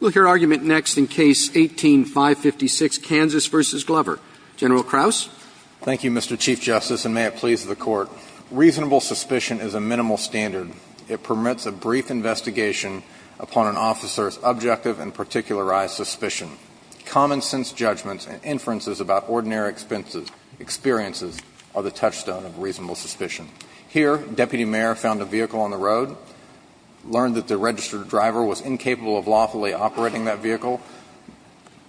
We'll hear argument next in Case 18-556, Kansas v. Glover. General Kraus. Thank you, Mr. Chief Justice, and may it please the Court. Reasonable suspicion is a minimal standard. It permits a brief investigation upon an officer's objective and particularized suspicion. Common-sense judgments and inferences about ordinary experiences are the touchstone of reasonable suspicion. Here, Deputy Mayor found a vehicle on the road, learned that the registered driver was incapable of lawfully operating that vehicle,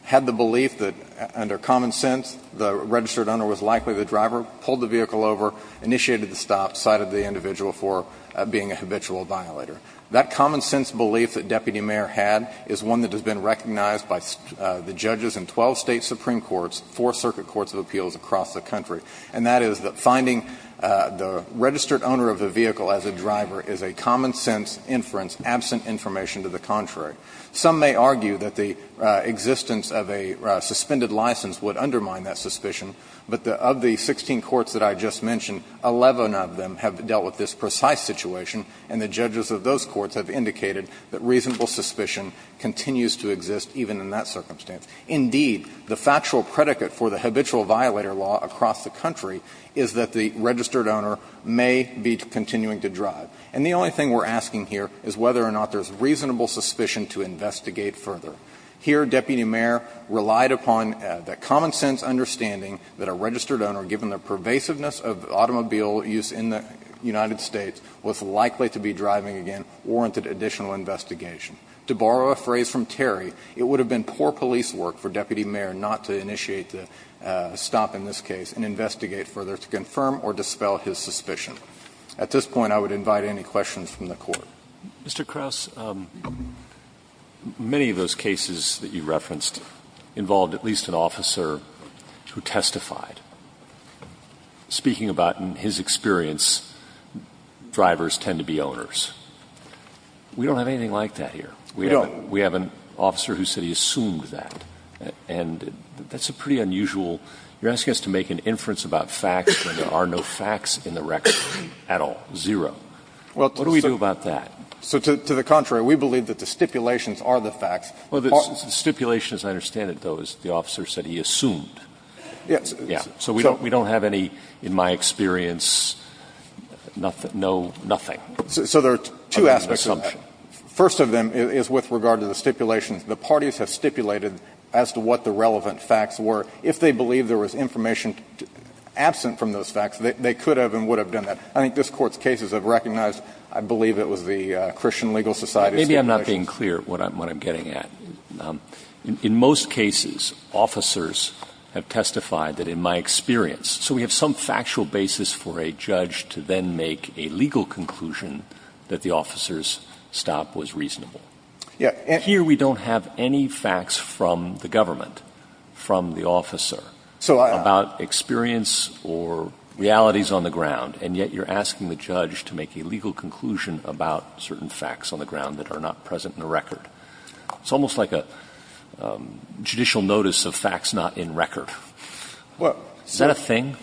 had the belief that, under common sense, the registered owner was likely the driver, pulled the vehicle over, initiated the stop, cited the individual for being a habitual violator. That common-sense belief that Deputy Mayor had is one that has been recognized by the judges in 12 State Supreme Courts, four circuit courts of appeals across the country. And that is that finding the registered owner of the vehicle as a driver is a common-sense inference absent information to the contrary. Some may argue that the existence of a suspended license would undermine that suspicion, but of the 16 courts that I just mentioned, 11 of them have dealt with this precise situation, and the judges of those courts have indicated that reasonable suspicion continues to exist even in that circumstance. Indeed, the factual predicate for the habitual violator law across the country is that the registered owner may be continuing to drive, and the only thing we're asking here is whether or not there's reasonable suspicion to investigate further. Here, Deputy Mayor relied upon the common-sense understanding that a registered owner, given the pervasiveness of automobile use in the United States, was likely to be driving again, warranted additional investigation. To borrow a phrase from Terry, it would have been poor police work for Deputy Mayor not to initiate the stop in this case and investigate further to confirm or dispel his suspicion. At this point, I would invite any questions from the Court. Mr. Krauss, many of those cases that you referenced involved at least an officer who testified, speaking about in his experience drivers tend to be owners. We don't have anything like that here. We have an officer who said he assumed that. And that's a pretty unusual – you're asking us to make an inference about facts when there are no facts in the record at all, zero. What do we do about that? So to the contrary, we believe that the stipulations are the facts. Well, the stipulation, as I understand it, though, is the officer said he assumed. Yes. Yes. So we don't have any, in my experience, no nothing. So there are two aspects of that. First of them is with regard to the stipulations. The parties have stipulated as to what the relevant facts were. If they believe there was information absent from those facts, they could have and would have done that. I think this Court's cases have recognized, I believe it was the Christian Legal Society's stipulations. Maybe I'm not being clear what I'm getting at. In most cases, officers have testified that, in my experience, so we have some factual basis for a judge to then make a legal conclusion that the officer's stop was reasonable. Here we don't have any facts from the government, from the officer, about experience or realities on the ground, and yet you're asking the judge to make a legal conclusion about certain facts on the ground that are not present in the record. It's almost like a judicial notice of facts not in record. Is that a thing?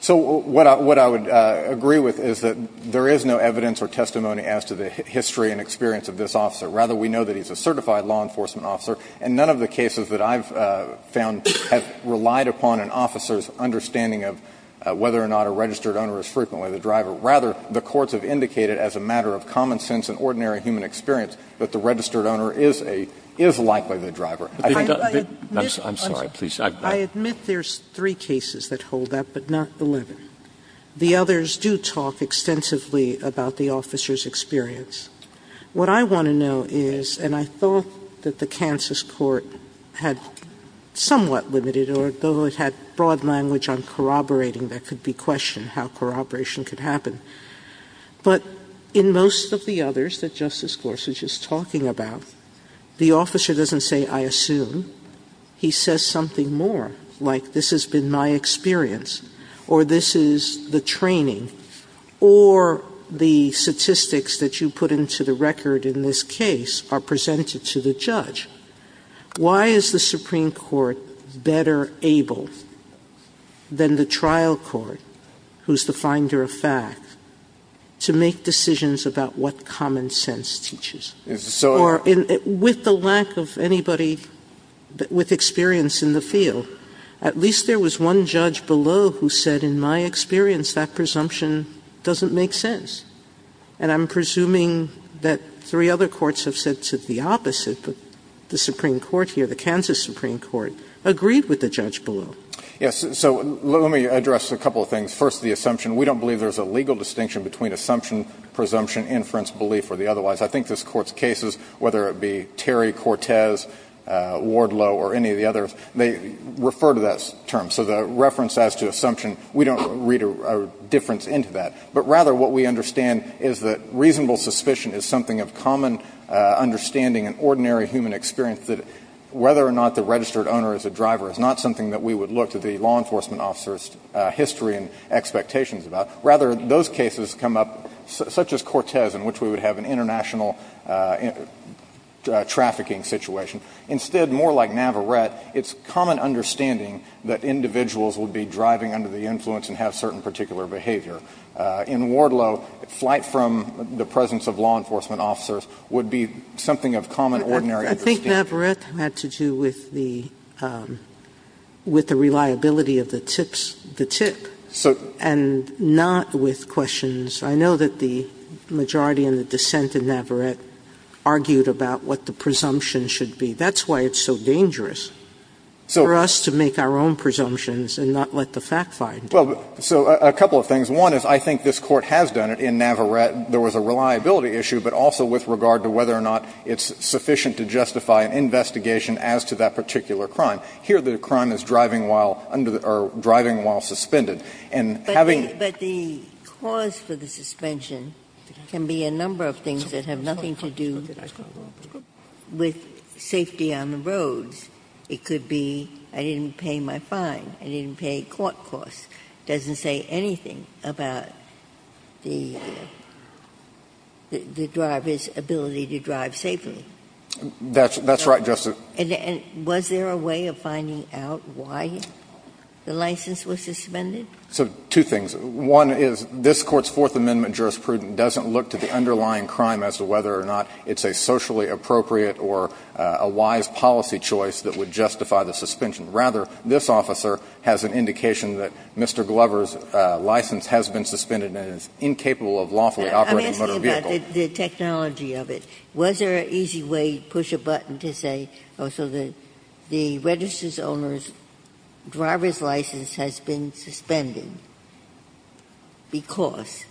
So what I would agree with is that there is no evidence or testimony as to the history and experience of this officer. Rather, we know that he's a certified law enforcement officer, and none of the cases that I've found have relied upon an officer's understanding of whether or not a registered owner is frequently the driver. Rather, the courts have indicated, as a matter of common sense and ordinary human experience, that the registered owner is likely the driver. Sotomayor, I admit there's three cases that hold that, but not 11. The others do talk extensively about the officer's experience. What I want to know is, and I thought that the Kansas court had somewhat limited or though it had broad language on corroborating, there could be question how corroboration could happen, but in most of the others that Justice Gorsuch is talking about, the officer doesn't say, I assume. He says something more, like, this has been my experience, or this is the training, or the statistics that you put into the record in this case are presented to the judge. Why is the Supreme Court better able than the trial court, who's the finder of facts, to make decisions about what common sense teaches? Or with the lack of anybody with experience in the field, at least there was one judge below who said, in my experience, that presumption doesn't make sense. And I'm presuming that three other courts have said the opposite, but the Supreme Court here, the Kansas Supreme Court, agreed with the judge below. Yes. So let me address a couple of things. First, the assumption. We don't believe there's a legal distinction between assumption, presumption, inference, belief, or the otherwise. I think this Court's cases, whether it be Terry, Cortez, Wardlow, or any of the others, they refer to that term. So the reference as to assumption, we don't read a difference into that. But rather, what we understand is that reasonable suspicion is something of common understanding in ordinary human experience that whether or not the registered owner is a driver is not something that we would look to the law enforcement officer's history and expectations about. Rather, those cases come up, such as Cortez, in which we would have an international trafficking situation. Instead, more like Navarrete, it's common understanding that individuals would be driving under the influence and have certain particular behavior. In Wardlow, flight from the presence of law enforcement officers would be something of common ordinary understanding. Sotomayor, Navarrete had to do with the reliability of the tips, the tip. And not with questions. I know that the majority in the dissent in Navarrete argued about what the presumption should be. That's why it's so dangerous for us to make our own presumptions and not let the fact finder. Well, so a couple of things. One is, I think this Court has done it in Navarrete. There was a reliability issue, but also with regard to whether or not it's sufficient to justify an investigation as to that particular crime. Here, the crime is driving while under the or driving while suspended. And having the But the cause for the suspension can be a number of things that have nothing to do with safety on the roads. It could be, I didn't pay my fine, I didn't pay court costs. It doesn't say anything about the driver's ability to drive safely. That's right, Justice. And was there a way of finding out why the license was suspended? So two things. One is, this Court's Fourth Amendment jurisprudence doesn't look to the underlying crime as to whether or not it's a socially appropriate or a wise policy choice that would justify the suspension. Rather, this officer has an indication that Mr. Glover's license has been suspended and is incapable of lawfully operating a motor vehicle. I'm asking about the technology of it. Was there an easy way, push a button to say, oh, so the register's owner's driver's license has been suspended because?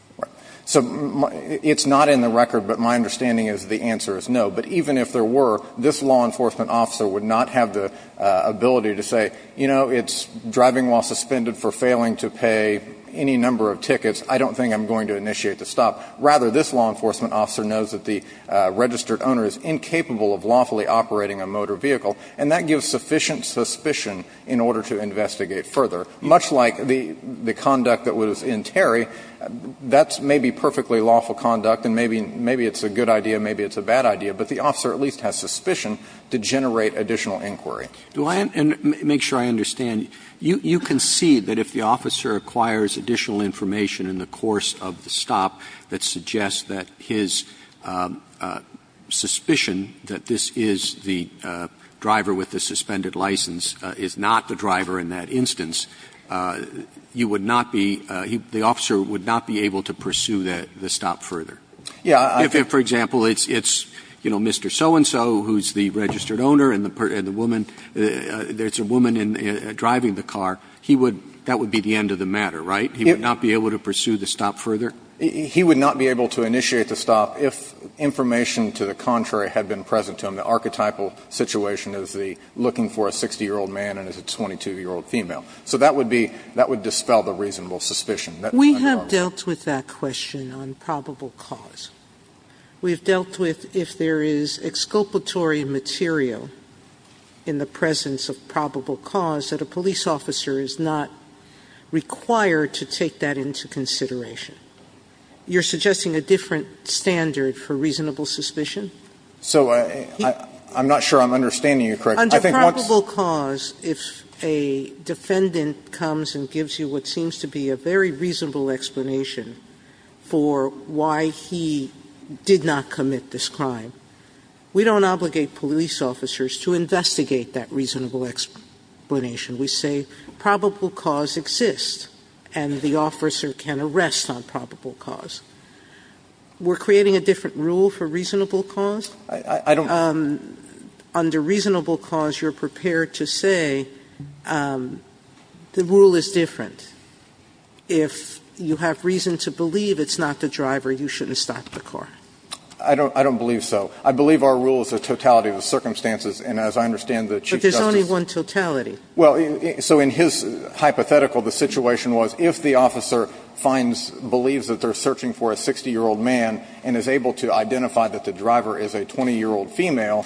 So it's not in the record, but my understanding is the answer is no. But even if there were, this law enforcement officer would not have the ability to say, you know, it's driving while suspended for failing to pay any number of tickets. I don't think I'm going to initiate the stop. Rather, this law enforcement officer knows that the registered owner is incapable of lawfully operating a motor vehicle, and that gives sufficient suspicion in order to investigate further. Much like the conduct that was in Terry, that's maybe perfectly lawful conduct and maybe it's a good idea, maybe it's a bad idea, but the officer at least has suspicion to generate additional inquiry. Do I — and make sure I understand. You concede that if the officer acquires additional information in the course of the stop that suggests that his suspicion that this is the driver with the suspended license is not the driver in that instance, you would not be — the officer would not be able to pursue the stop further? Yeah, I think — If, for example, it's, you know, Mr. So-and-so, who's the registered owner, and the woman — there's a woman driving the car, he would — that would be the end of the matter, right? He would not be able to pursue the stop further? He would not be able to initiate the stop if information to the contrary had been present to him. The archetypal situation is the looking for a 60-year-old man and it's a 22-year-old female. So that would be — that would dispel the reasonable suspicion. We have dealt with that question on probable cause. We have dealt with if there is exculpatory material in the presence of probable cause that a police officer is not required to take that into consideration. You're suggesting a different standard for reasonable suspicion? So I'm not sure I'm understanding you correctly. I think what's — Under probable cause, if a defendant comes and gives you what seems to be a very reasonable explanation for why he did not commit this crime, we don't obligate police officers to investigate that reasonable explanation. We say probable cause exists and the officer can arrest on probable cause. We're creating a different rule for reasonable cause? I don't — Under reasonable cause, you're prepared to say the rule is different. If you have reason to believe it's not the driver, you shouldn't stop the car. I don't believe so. I believe our rule is a totality of the circumstances. And as I understand the Chief Justice — But there's only one totality. Well, so in his hypothetical, the situation was if the officer finds — believes that they're searching for a 60-year-old man and is able to identify that the driver is a 20-year-old female,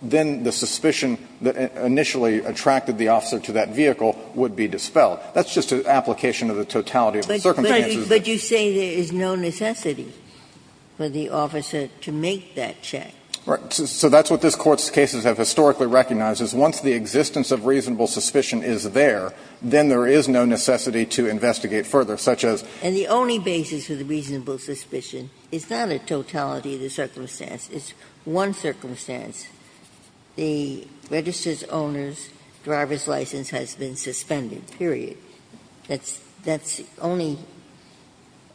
then the suspicion that initially attracted the officer to that vehicle would be dispelled. That's just an application of the totality of the circumstances. But you say there is no necessity for the officer to make that check. Right. So that's what this Court's cases have historically recognized, is once the existence of reasonable suspicion is there, then there is no necessity to investigate further, such as — And the only basis for the reasonable suspicion is not a totality of the circumstance. It's one circumstance. The registered owner's driver's license has been suspended, period. That's — that's only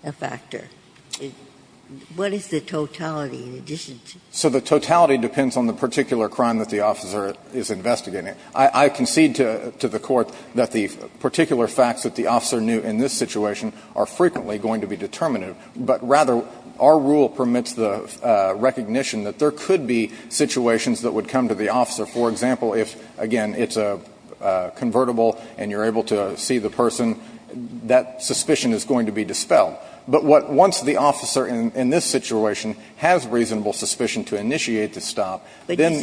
a factor. What is the totality in addition to — So the totality depends on the particular crime that the officer is investigating. I concede to the Court that the particular facts that the officer knew in this situation are frequently going to be determinative. But rather, our rule permits the recognition that there could be situations that would come to the officer. For example, if, again, it's a convertible and you're able to see the person, that suspicion is going to be dispelled. But what — once the officer in this situation has reasonable suspicion to initiate the stop, then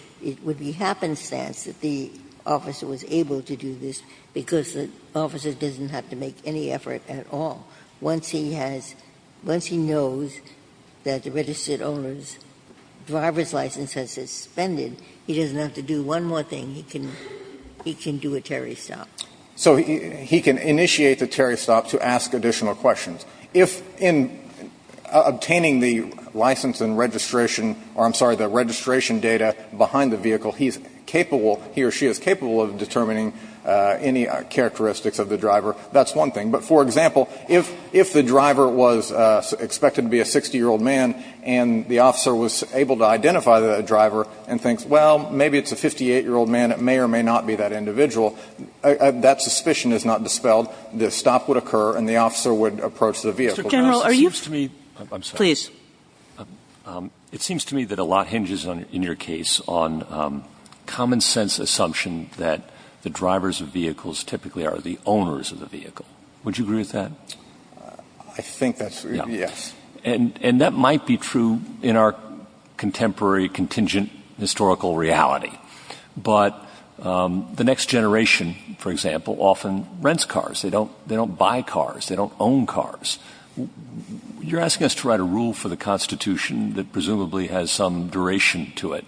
— It would be happenstance that the officer was able to do this because the officer doesn't have to make any effort at all. Once he has — once he knows that the registered owner's driver's license has suspended, he doesn't have to do one more thing. He can — he can do a Terry stop. So he can initiate the Terry stop to ask additional questions. If, in obtaining the license and registration — or, I'm sorry, the registration data behind the vehicle, he's capable — he or she is capable of determining any characteristics of the driver, that's one thing. But, for example, if the driver was expected to be a 60-year-old man and the officer was able to identify the driver and thinks, well, maybe it's a 58-year-old man, it may or may not be that individual, that suspicion is not dispelled. The stop would occur and the officer would approach the vehicle. Kagan. Kagan. Kagan. Kagan. Kagan. Kagan. Kagan. Kagan. Kagan. Kagan. Kagan. Kagan. on common-sense assumption that the drivers of vehicles typically are the owners of the vehicle. Would you agree with that? I think that's — Yeah. Yes. And — and that might be true in our contemporary contingent historical reality. But the next generation, for example, often rents cars. They don't — they don't buy cars. They don't own cars. You're asking us to write a rule for the Constitution that presumably has some duration to it.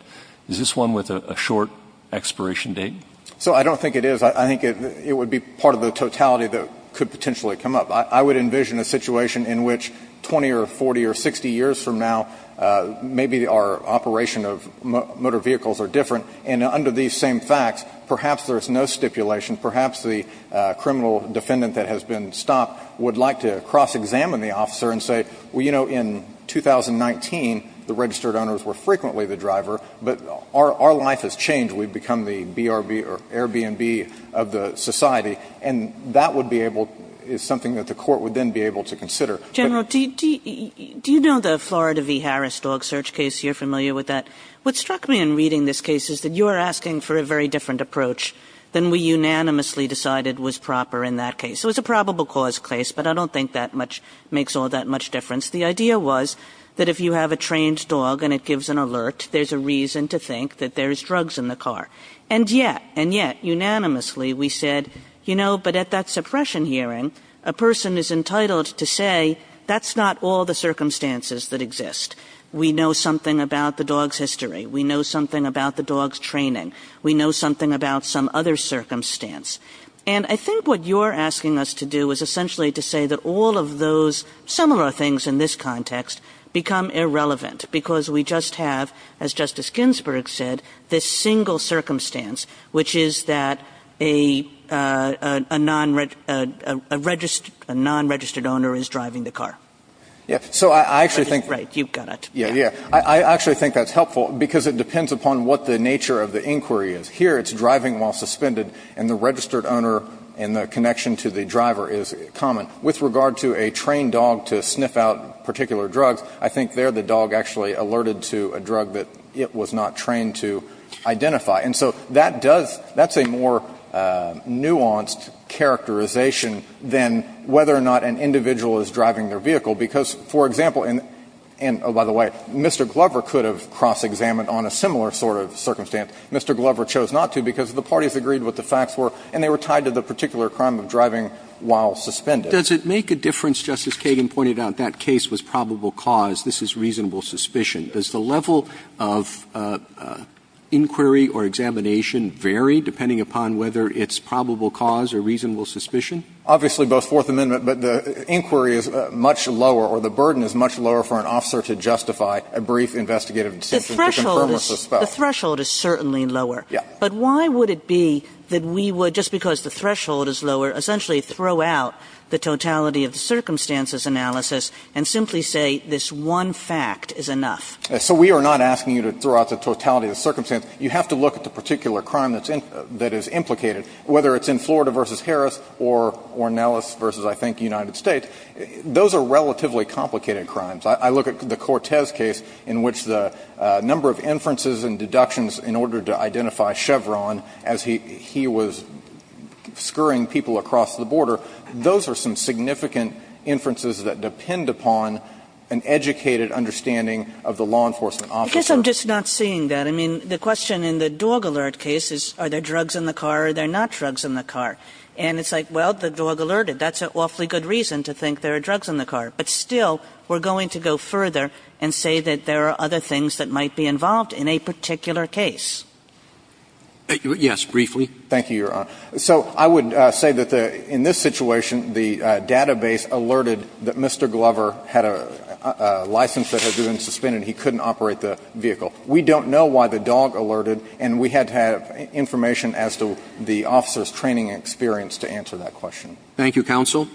Is this one with a short expiration date? So, I don't think it is. I think it would be part of the totality that could potentially come up. I would envision a situation in which 20 or 40 or 60 years from now, maybe our operation of motor vehicles are different. And under these same facts, perhaps there's no stipulation, perhaps the criminal defendant that has been stopped would like to cross-examine the officer and say, well, you know, in 2019, the registered owners were frequently the driver, but our life has changed. We've become the BRB or Airbnb of the society. And that would be able — is something that the court would then be able to consider. General, do you know the Florida v. Harris dog search case? You're familiar with that. What struck me in reading this case is that you are asking for a very different approach than we unanimously decided was proper in that case. So, it's a probable cause case, but I don't think that much — makes all that much difference. The idea was that if you have a trained dog and it gives an alert, there's a reason to think that there's drugs in the car. And yet — and yet, unanimously, we said, you know, but at that suppression hearing, a person is entitled to say, that's not all the circumstances that exist. We know something about the dog's history. We know something about the dog's training. We know something about some other circumstance. And I think what you're asking us to do is essentially to say that all of those similar things in this context become irrelevant, because we just have, as Justice Ginsburg said, this single circumstance, which is that a — a non-registered — a non-registered owner is driving the car. Yeah. So, I actually think — Right. You've got it. Yeah, yeah. I actually think that's helpful, because it depends upon what the nature of the inquiry is. Here, it's driving while suspended, and the registered owner and the connection to the driver is common. With regard to a trained dog to sniff out particular drugs, I think there the dog actually alerted to a drug that it was not trained to identify. And so that does — that's a more nuanced characterization than whether or not an individual is driving their vehicle, because, for example — and, oh, by the way, Mr. Glover could have cross-examined on a similar sort of circumstance. Mr. Glover chose not to because the parties agreed what the facts were, and they were driving while suspended. Does it make a difference, Justice Kagan pointed out, that case was probable cause. This is reasonable suspicion. Does the level of inquiry or examination vary depending upon whether it's probable cause or reasonable suspicion? Obviously, both Fourth Amendment, but the inquiry is much lower, or the burden is much lower for an officer to justify a brief investigative decision to confirm or suspect. The threshold is — the threshold is certainly lower. Yeah. But why would it be that we would, just because the threshold is lower, essentially throw out the totality of the circumstances analysis and simply say this one fact is enough? So we are not asking you to throw out the totality of the circumstances. You have to look at the particular crime that's in — that is implicated, whether it's in Florida v. Harris or Ornelas v. I think United States. Those are relatively complicated crimes. I look at the Cortez case in which the number of inferences and deductions in order to identify Chevron as he was scurrying people across the border. Those are some significant inferences that depend upon an educated understanding of the law enforcement officer. I guess I'm just not seeing that. I mean, the question in the dog alert case is are there drugs in the car or are there not drugs in the car. And it's like, well, the dog alerted. That's an awfully good reason to think there are drugs in the car. But still, we're going to go further and say that there are other things that might be involved in a particular case. Yes, briefly. Thank you, Your Honor. So I would say that in this situation, the database alerted that Mr. Glover had a license that had been suspended. He couldn't operate the vehicle. We don't know why the dog alerted, and we had to have information as to the officer's training experience to answer that question. Thank you, counsel.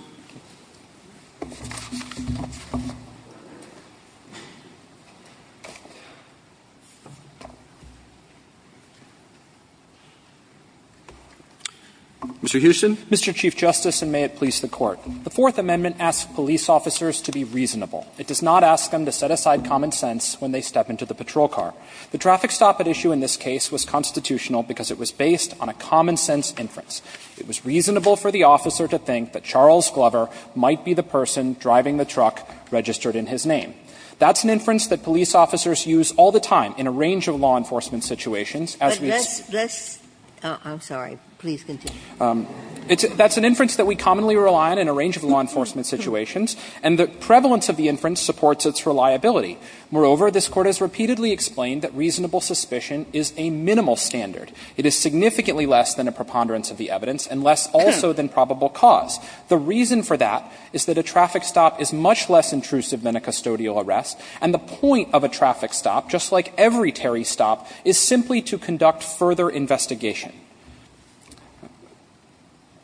Mr. Houston. Mr. Chief Justice, and may it please the Court. The Fourth Amendment asks police officers to be reasonable. It does not ask them to set aside common sense when they step into the patrol car. The traffic stop at issue in this case was constitutional because it was based on a common sense inference. It was reasonable for the officer to think that Charles Glover might be the person driving the truck registered in his name. That's an inference that police officers use all the time in a range of law enforcement situations as we've seen. But let's – let's – I'm sorry. Please continue. That's an inference that we commonly rely on in a range of law enforcement situations, and the prevalence of the inference supports its reliability. Moreover, this Court has repeatedly explained that reasonable suspicion is a minimal standard. It is significantly less than a preponderance of the evidence and less also than probable cause. The reason for that is that a traffic stop is much less intrusive than a custodial arrest, and the point of a traffic stop, just like every Terry stop, is simply to conduct further investigation.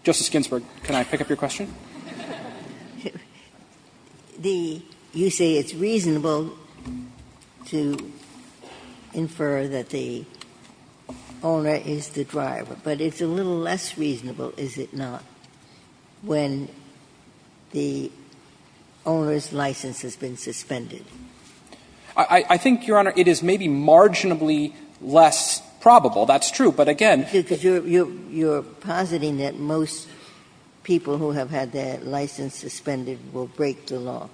Justice Ginsburg, can I pick up your question? The – you say it's reasonable to infer that the owner is the driver, but it's a little less reasonable, is it not, when the owner's license has been suspended? I think, Your Honor, it is maybe marginally less probable. That's true, but again – But that's true because you're – you're positing that most people who have had their license suspended will break the law.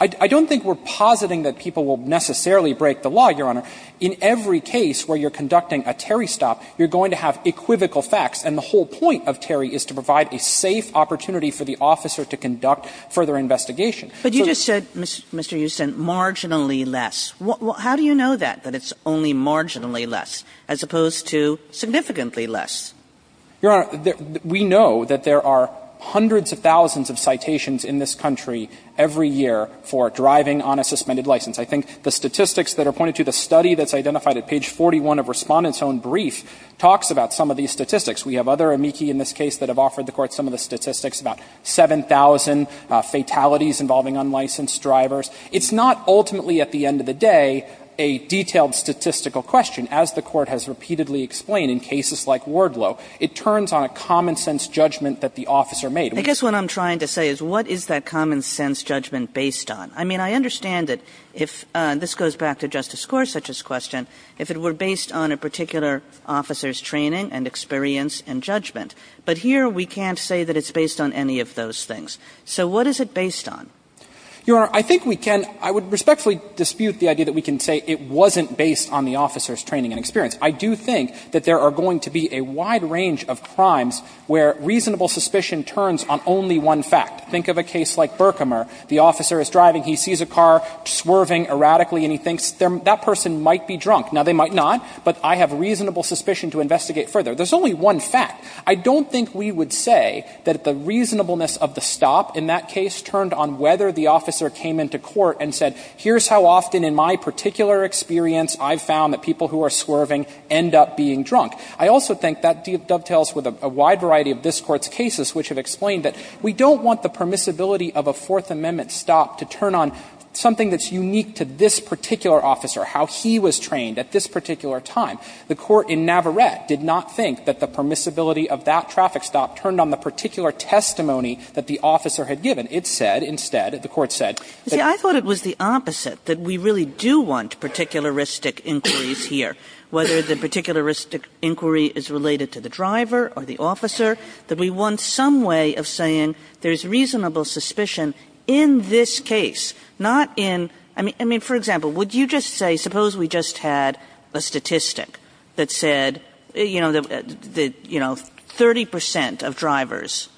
I don't think we're positing that people will necessarily break the law, Your Honor. In every case where you're conducting a Terry stop, you're going to have equivocal facts, and the whole point of Terry is to provide a safe opportunity for the officer to conduct further investigation. But you just said, Mr. Uson, marginally less. How do you know that, that it's only marginally less, as opposed to significantly less? Your Honor, we know that there are hundreds of thousands of citations in this country every year for driving on a suspended license. I think the statistics that are pointed to, the study that's identified at page 41 of Respondent's own brief, talks about some of these statistics. We have other amici in this case that have offered the Court some of the statistics, about 7,000 fatalities involving unlicensed drivers. It's not ultimately, at the end of the day, a detailed statistical question, as the Court has repeatedly explained in cases like Wardlow. It turns on a common-sense judgment that the officer made. Kagan. Kagan. I guess what I'm trying to say is what is that common-sense judgment based on? I mean, I understand that if this goes back to Justice Gorsuch's question, if it were based on a particular officer's training and experience and judgment. But here we can't say that it's based on any of those things. So what is it based on? Your Honor, I think we can — I would respectfully dispute the idea that we can say it wasn't based on the officer's training and experience. I do think that there are going to be a wide range of crimes where reasonable suspicion turns on only one fact. Think of a case like Berkemer. The officer is driving. He sees a car swerving erratically, and he thinks that person might be drunk. Now, they might not, but I have reasonable suspicion to investigate further. There's only one fact. I don't think we would say that the reasonableness of the stop in that case turned on whether the officer came into court and said, here's how often in my particular experience I've found that people who are swerving end up being drunk. I also think that dovetails with a wide variety of this Court's cases which have explained that we don't want the permissibility of a Fourth Amendment stop to turn on something that's unique to this particular officer, how he was trained at this particular time. The Court in Navarrete did not think that the permissibility of that traffic stop turned on the particular testimony that the officer had given. It said instead, the Court said that Kagan. I thought it was the opposite, that we really do want particularistic inquiries here, whether the particularistic inquiry is related to the driver or the officer, that we want some way of saying there's reasonable suspicion in this case, not in – I mean, for example, would you just say, suppose we just had a statistic that said, you know, that, you know, 30 percent of drivers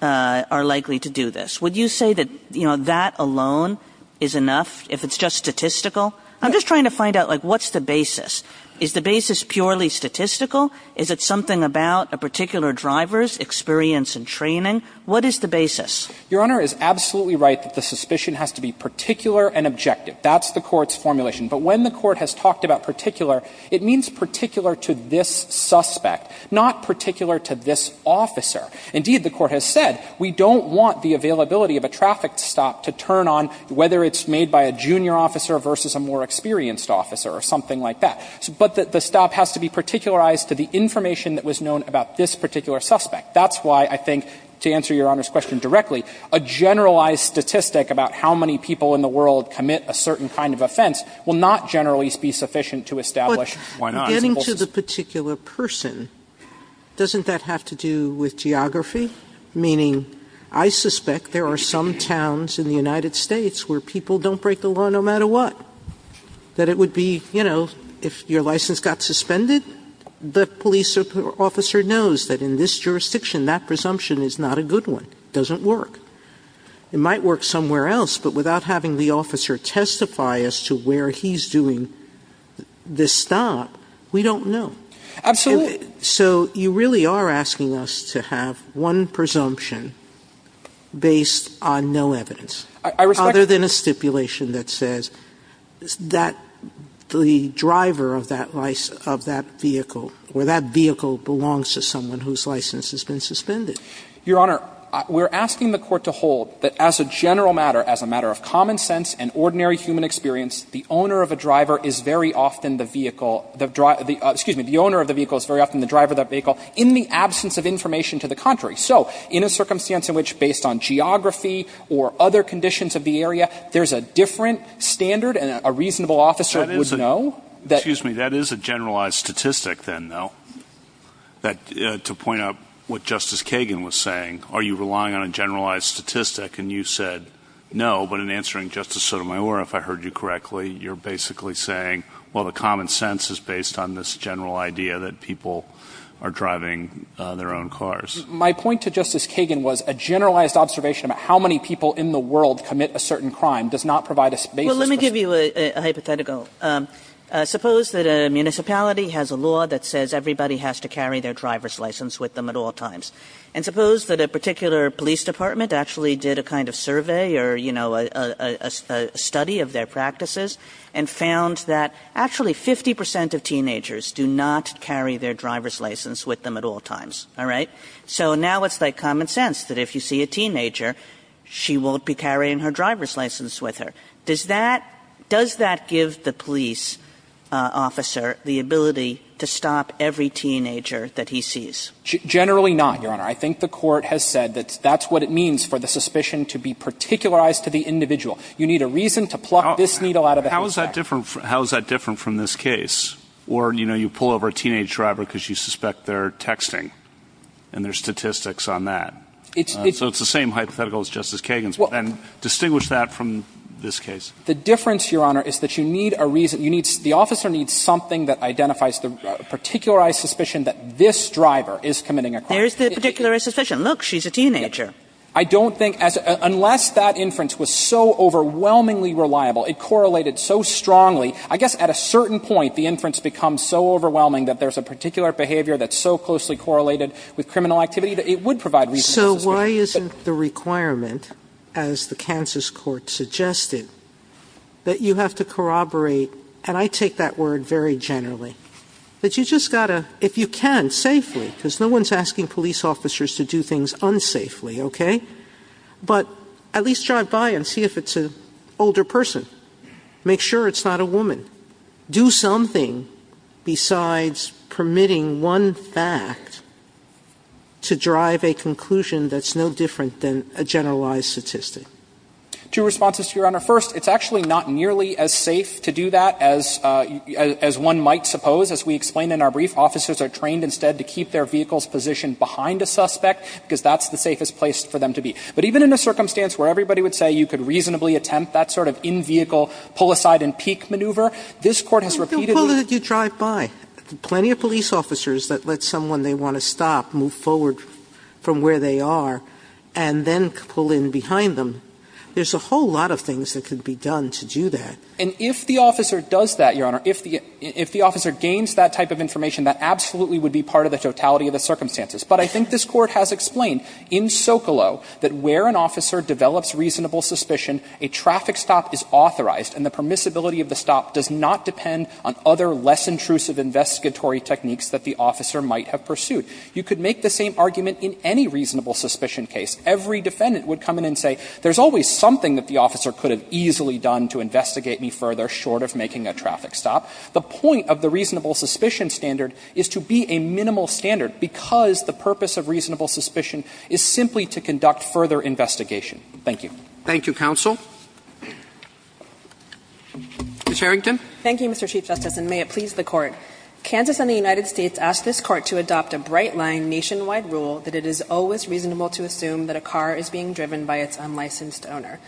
are likely to do this. Would you say that, you know, that alone is enough, if it's just statistical? I'm just trying to find out, like, what's the basis? Is the basis purely statistical? Is it something about a particular driver's experience and training? What is the basis? Your Honor is absolutely right that the suspicion has to be particular and objective. That's the Court's formulation. But when the Court has talked about particular, it means particular to this suspect, not particular to this officer. Indeed, the Court has said, we don't want the availability of a traffic stop to turn on, whether it's made by a junior officer versus a more experienced officer or something like that. But the stop has to be particularized to the information that was known about this particular suspect. That's why I think, to answer Your Honor's question directly, a generalized statistic about how many people in the world commit a certain kind of offense will not generally be sufficient to establish why not. Getting to the particular person, doesn't that have to do with geography? Meaning, I suspect there are some towns in the United States where people don't break the law no matter what. That it would be, you know, if your license got suspended, the police officer knows that in this jurisdiction, that presumption is not a good one. It doesn't work. It might work somewhere else, but without having the officer testify as to where he's doing this stop, we don't know. Absolutely. So you really are asking us to have one presumption based on no evidence? I respect that. Other than a stipulation that says that the driver of that vehicle, or that vehicle belongs to someone whose license has been suspended. Your Honor, we're asking the Court to hold that as a general matter, as a matter of common sense and ordinary human experience, the owner of a driver is very often the vehicle, excuse me, the owner of the vehicle is very often the driver of that vehicle in the absence of information to the contrary. So in a circumstance in which, based on geography or other conditions of the area, there's a different standard and a reasonable officer would know that. That is a generalized statistic then, though, to point out what Justice Kagan was saying. Are you relying on a generalized statistic? And you said no, but in answering Justice Sotomayor, if I heard you correctly, you're basically saying, well, the common sense is based on this general idea that people are driving their own cars. My point to Justice Kagan was a generalized observation about how many people in the world commit a certain crime does not provide a basis for saying that. Well, let me give you a hypothetical. Suppose that a municipality has a law that says everybody has to carry their driver's license with them at all times. And suppose that a particular police department actually did a kind of survey or, you know, a study of their practices and found that actually 50 percent of teenagers do not carry their driver's license with them at all times. All right? So now it's like common sense that if you see a teenager, she won't be carrying her driver's license with her. Does that – does that give the police officer the ability to stop every teenager that he sees? Generally not, Your Honor. I think the court has said that that's what it means for the suspicion to be particularized to the individual. You need a reason to pluck this needle out of a haystack. How is that different from this case? Or, you know, you pull over a teenage driver because you suspect their texting and there's statistics on that. So it's the same hypothetical as Justice Kagan's. And distinguish that from this case. The difference, Your Honor, is that you need a reason – you need – the officer needs something that identifies the particularized suspicion that this driver is committing a crime. There's the particularized suspicion. Look, she's a teenager. I don't think – unless that inference was so overwhelmingly reliable, it correlated so strongly, I guess at a certain point the inference becomes so overwhelming that there's a particular behavior that's so closely correlated with criminal activity that it would provide reason to suspect. So why isn't the requirement, as the Kansas court suggested, that you have to corroborate – and I take that word very generally – that you just got to, if you can, safely – because no one's asking police officers to do things unsafely, okay? But at least drive by and see if it's an older person. Make sure it's not a woman. Do something besides permitting one fact to drive a conclusion that's no different than a generalized statistic. Two responses to Your Honor. First, it's actually not nearly as safe to do that as one might suppose. As we explained in our brief, officers are trained instead to keep their vehicle's position behind a suspect because that's the safest place for them to be. But even in a circumstance where everybody would say you could reasonably attempt that sort of in-vehicle pull-aside-and-peek maneuver, this Court has repeatedly – Well, then why don't you drive by? Plenty of police officers that let someone they want to stop move forward from where they are and then pull in behind them. There's a whole lot of things that could be done to do that. And if the officer does that, Your Honor, if the officer gains that type of information, that absolutely would be part of the totality of the circumstances. But I think this Court has explained in Socolow that where an officer develops reasonable suspicion, a traffic stop is authorized and the permissibility of the stop does not depend on other less intrusive investigatory techniques that the officer might have pursued. You could make the same argument in any reasonable suspicion case. Every defendant would come in and say there's always something that the officer could have easily done to investigate me further short of making a traffic stop. The point of the reasonable suspicion standard is to be a minimal standard because the purpose of reasonable suspicion is simply to conduct further investigation. Thank you. Thank you, counsel. Ms. Harrington. Thank you, Mr. Chief Justice, and may it please the Court. Kansas and the United States ask this Court to adopt a bright line nationwide rule that it is always reasonable to assume that a car is being driven by its unlicensed owner.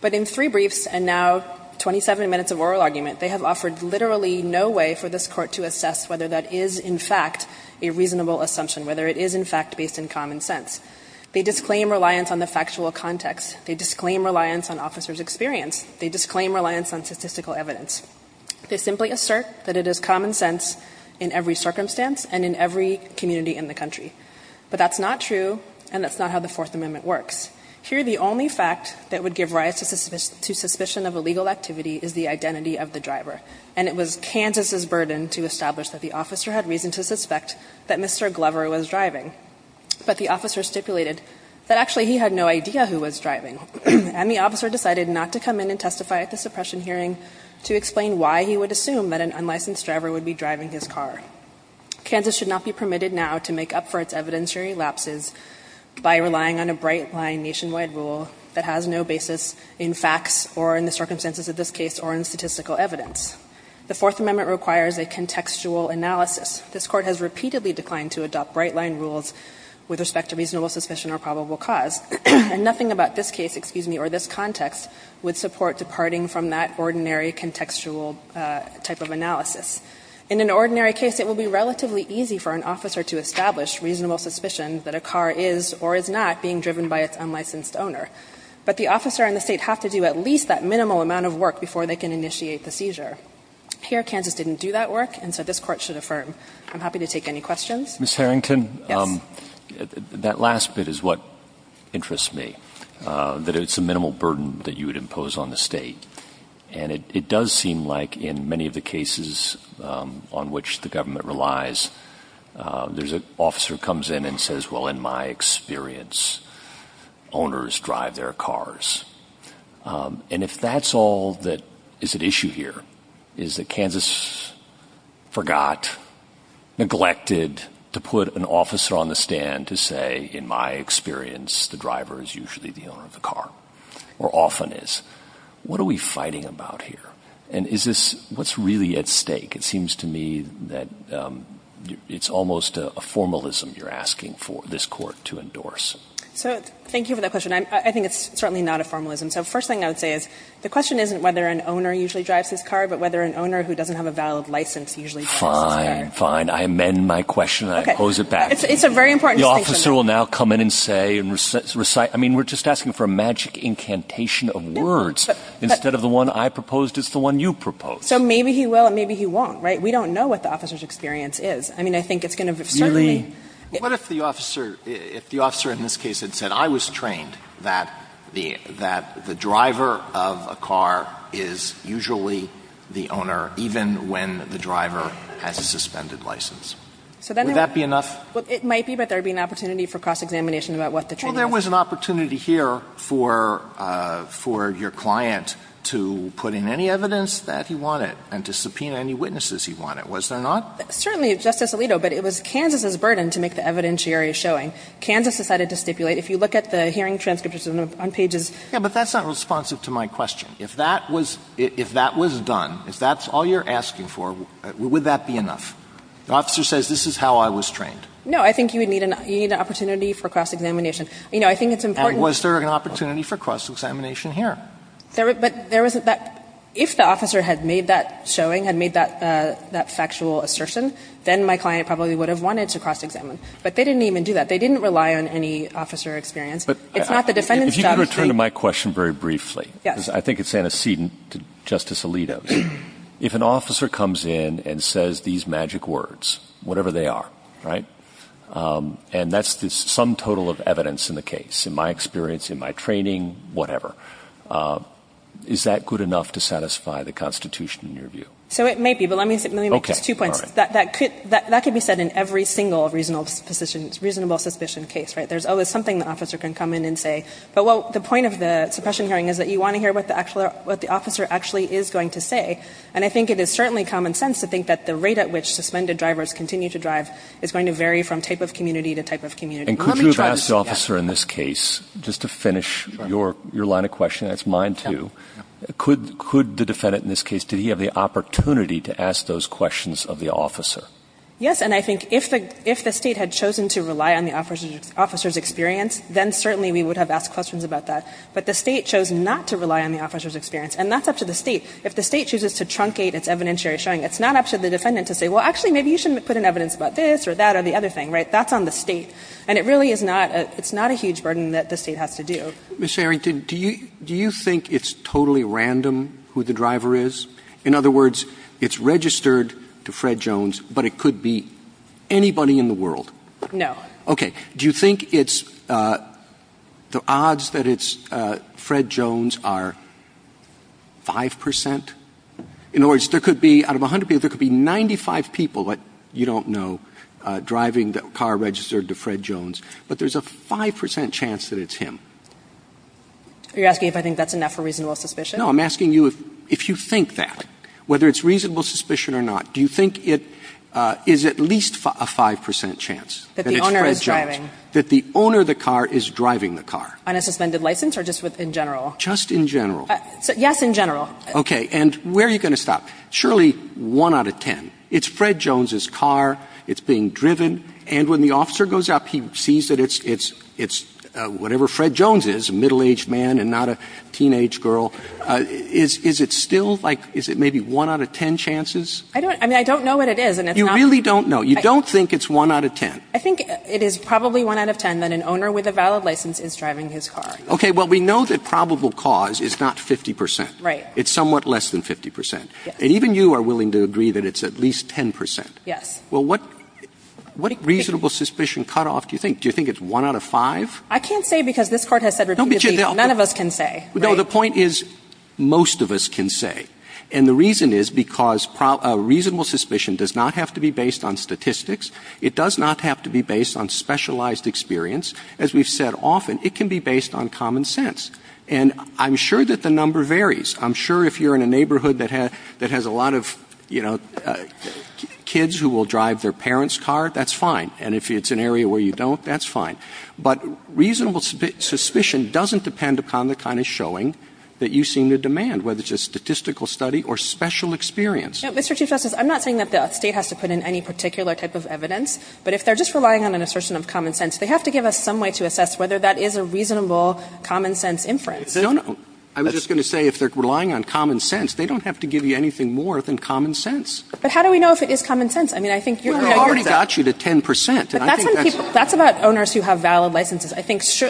But in three briefs and now 27 minutes of oral argument, they have offered literally no way for this Court to assess whether that is, in fact, a reasonable assumption, whether it is, in fact, based in common sense. They disclaim reliance on the factual context. They disclaim reliance on officer's experience. They disclaim reliance on statistical evidence. They simply assert that it is common sense in every circumstance and in every community in the country. But that's not true, and that's not how the Fourth Amendment works. Here, the only fact that would give rise to suspicion of illegal activity is the identity of the driver. And it was Kansas' burden to establish that the officer had reason to suspect that Mr. Glover was driving. But the officer stipulated that actually he had no idea who was driving. And the officer decided not to come in and testify at the suppression hearing to explain why he would assume that an unlicensed driver would be driving his car. Kansas should not be permitted now to make up for its evidenceary lapses by relying on a bright line nationwide rule that has no basis in facts or in the circumstances of this case or in statistical evidence. The Fourth Amendment requires a contextual analysis. This Court has repeatedly declined to adopt bright line rules with respect to reasonable suspicion or probable cause. And nothing about this case, excuse me, or this context would support departing from that ordinary contextual type of analysis. In an ordinary case, it will be relatively easy for an officer to establish reasonable suspicion that a car is or is not being driven by its unlicensed owner. But the officer and the state have to do at least that minimal amount of work before they can initiate the seizure. Here, Kansas didn't do that work, and so this Court should affirm. I'm happy to take any questions. Ms. Harrington, that last bit is what interests me, that it's a minimal burden that you would impose on the state. And it does seem like in many of the cases on which the government relies, there's an officer who comes in and says, well, in my experience, owners drive their cars. And if that's all that is at issue here, is that Kansas forgot, neglected to put an officer on the stand to say, in my experience, the driver is usually the owner of the car, or often is. What are we fighting about here? And is this, what's really at stake? It seems to me that it's almost a formalism you're asking for this Court to endorse. So thank you for that question. I think it's certainly not a formalism. So first thing I would say is, the question isn't whether an owner usually drives his car, but whether an owner who doesn't have a valid license usually drives his car. Fine, fine. I amend my question. I oppose it back. It's a very important distinction. The officer will now come in and say, and recite. I mean, we're just asking for a magic incantation of words. Instead of the one I proposed, it's the one you proposed. So maybe he will and maybe he won't, right? We don't know what the officer's experience is. I mean, I think it's going to certainly. Alito, what if the officer, if the officer in this case had said, I was trained that the driver of a car is usually the owner even when the driver has a suspended license? Would that be enough? Well, it might be, but there would be an opportunity for cross-examination about what the training is. Well, there was an opportunity here for your client to put in any evidence that he wanted and to subpoena any witnesses he wanted, was there not? Certainly, Justice Alito, but it was Kansas' burden to make the evidentiary showing. Kansas decided to stipulate, if you look at the hearing transcriptures on pages. Yeah, but that's not responsive to my question. If that was done, if that's all you're asking for, would that be enough? The officer says, this is how I was trained. No, I think you would need an opportunity for cross-examination. You know, I think it's important. And was there an opportunity for cross-examination here? But there wasn't that. If the officer had made that showing, had made that factual assertion, then my client probably would have wanted to cross-examine. But they didn't even do that. They didn't rely on any officer experience. It's not the defendant's job to say. If you could return to my question very briefly, because I think it's antecedent to Justice Alito's. If an officer comes in and says these magic words, whatever they are, right, and that's the sum total of evidence in the case, in my experience, in my training, whatever, is that good enough to satisfy the Constitution in your view? So it may be. But let me make just two points. That could be said in every single reasonable suspicion case, right? There's always something the officer can come in and say. But the point of the suppression hearing is that you want to hear what the officer actually is going to say. And I think it is certainly common sense to think that the rate at which suspended drivers continue to drive is going to vary from type of community to type of community. And could you have asked the officer in this case, just to finish your line of question, that's mine too, could the defendant in this case, did he have the opportunity to ask those questions of the officer? Yes. And I think if the state had chosen to rely on the officer's experience, then certainly we would have asked questions about that. But the state chose not to rely on the officer's experience. And that's up to the state. If the state chooses to truncate its evidentiary showing, it's not up to the defendant to say, well, actually, maybe you should put in evidence about this or that or the other thing, right? That's on the state. And it really is not, it's not a huge burden that the state has to do. Ms. Harrington, do you think it's totally random who the driver is? In other words, it's registered to Fred Jones, but it could be anybody in the world? No. Okay. Do you think it's, the odds that it's Fred Jones are 5%? In other words, there could be, out of 100 people, there could be 95 people, but you don't know, driving the car registered to Fred Jones. But there's a 5% chance that it's him. Are you asking if I think that's enough for reasonable suspicion? No, I'm asking you if you think that. Whether it's reasonable suspicion or not, do you think it is at least a 5% chance that it's Fred Jones? That the owner is driving. That the owner of the car is driving the car. On a suspended license or just in general? Just in general. Yes, in general. Okay. And where are you going to stop? Surely, 1 out of 10. It's Fred Jones' car, it's being driven, and when the officer goes up, he sees that it's whatever Fred Jones is, a middle-aged man and not a teenage girl. Is it still like, is it maybe 1 out of 10 chances? I don't know what it is. You really don't know. You don't think it's 1 out of 10? I think it is probably 1 out of 10 that an owner with a valid license is driving his car. Okay. Well, we know that probable cause is not 50%. Right. It's somewhat less than 50%. And even you are willing to agree that it's at least 10%. Yes. Well, what reasonable suspicion cutoff do you think? Do you think it's 1 out of 5? I can't say because this Court has said repeatedly none of us can say. No, the point is most of us can say. And the reason is because reasonable suspicion does not have to be based on statistics. It does not have to be based on specialized experience. As we've said often, it can be based on common sense. And I'm sure that the number varies. I'm sure if you're in a neighborhood that has a lot of, you know, kids who will drive their parents' car, that's fine. And if it's an area where you don't, that's fine. But reasonable suspicion doesn't depend upon the kind of showing that you seem to demand, whether it's a statistical study or special experience. Mr. Chief Justice, I'm not saying that the State has to put in any particular type of evidence, but if they're just relying on an assertion of common sense, they have to give us some way to assess whether that is a reasonable common sense inference. No, no. I was just going to say if they're relying on common sense, they don't have to give you anything more than common sense. But how do we know if it is common sense? I mean, I think you're already got you to 10 percent. But that's when people, that's about owners who have valid licenses. I think it's,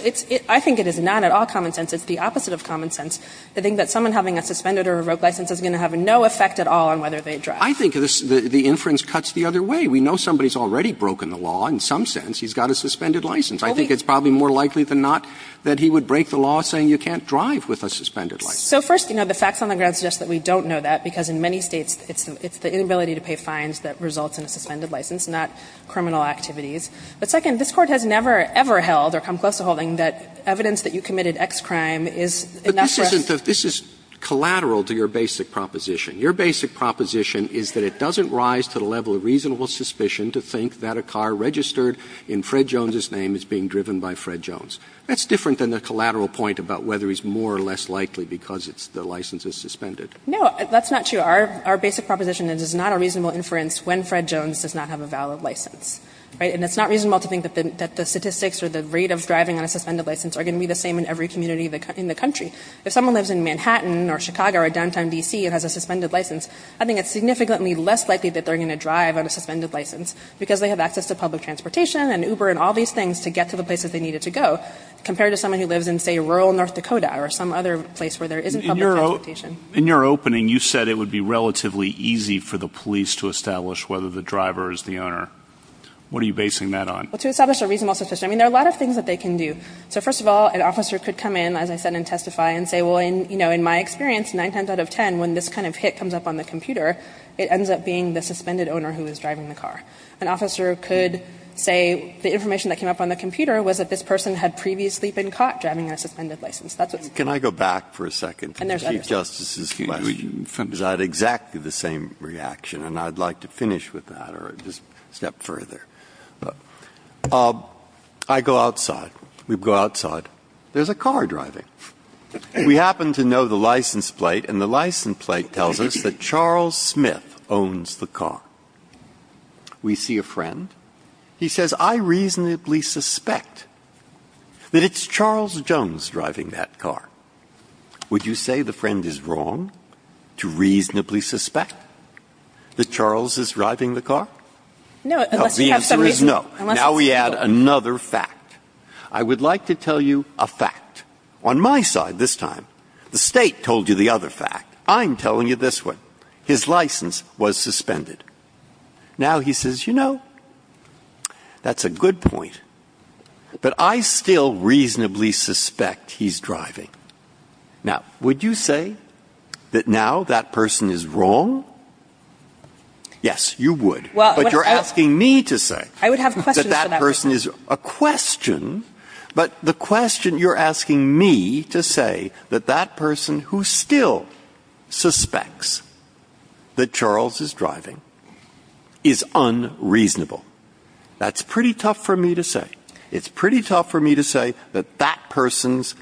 I think it is not at all common sense. It's the opposite of common sense. I think that someone having a suspended or a broke license is going to have no effect at all on whether they drive. I think the inference cuts the other way. We know somebody's already broken the law. In some sense, he's got a suspended license. I think it's probably more likely than not that he would break the law saying you can't drive with a suspended license. So first, you know, the facts on the ground suggest that we don't know that, because in many States, it's the inability to pay fines that results in a suspended license, not criminal activities. But second, this Court has never, ever held or come close to holding that evidence that you committed X crime is enough for us. But this isn't, this is collateral to your basic proposition. Your basic proposition is that it doesn't rise to the level of reasonable suspicion to think that a car registered in Fred Jones's name is being driven by Fred Jones. That's different than the collateral point about whether he's more or less likely because the license is suspended. No, that's not true. Our basic proposition is it's not a reasonable inference when Fred Jones does not have a valid license, right? And it's not reasonable to think that the statistics or the rate of driving on a suspended license are going to be the same in every community in the country. If someone lives in Manhattan or Chicago or downtown D.C. and has a suspended license, I think it's significantly less likely that they're going to drive on a suspended license, because they have access to public transportation and Uber and all these things to get to the places they needed to go, compared to someone who lives in, say, rural North Dakota or some other place where there isn't public transportation. In your opening, you said it would be relatively easy for the police to establish whether the driver is the owner. What are you basing that on? Well, to establish a reasonable suspicion, I mean, there are a lot of things that they can do. So, first of all, an officer could come in, as I said, and testify and say, well, you know, in my experience, nine times out of ten, when this kind of hit comes up on the computer, it ends up being the suspended owner who is driving the car. An officer could say the information that came up on the computer was that this person had previously been caught driving on a suspended license. That's what's going on. Breyer. Can I go back for a second to the Chief Justice's question? Because I had exactly the same reaction, and I'd like to finish with that or just step further. I go outside. We go outside. There's a car driving. We happen to know the license plate, and the license plate tells us that Charles Smith owns the car. We see a friend. He says, I reasonably suspect that it's Charles Jones driving that car. Would you say the friend is wrong to reasonably suspect that Charles is driving the car? No. The answer is no. Now we add another fact. I would like to tell you a fact. On my side this time, the State told you the other fact. I'm telling you this one. His license was suspended. Now he says, you know, that's a good point, but I still reasonably suspect he's driving. Now, would you say that now that person is wrong? Yes, you would, but you're asking me to say that that person is a question, but the question you're asking me to say that that person who still suspects that Charles is driving is unreasonable. That's pretty tough for me to say. It's pretty tough for me to say that that person's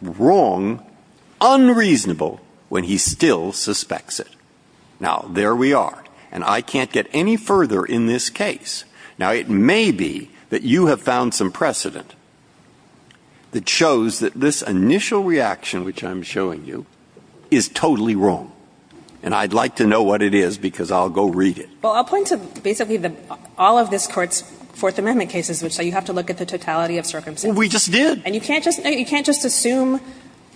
wrong, unreasonable, when he still suspects it. Now, there we are, and I can't get any further in this case. Now, it may be that you have found some precedent that shows that this initial reaction, which I'm showing you, is totally wrong, and I'd like to know what it is, because I'll go read it. Well, I'll point to basically all of this Court's Fourth Amendment cases, which say you have to look at the totality of circumstances. We just did. And you can't just assume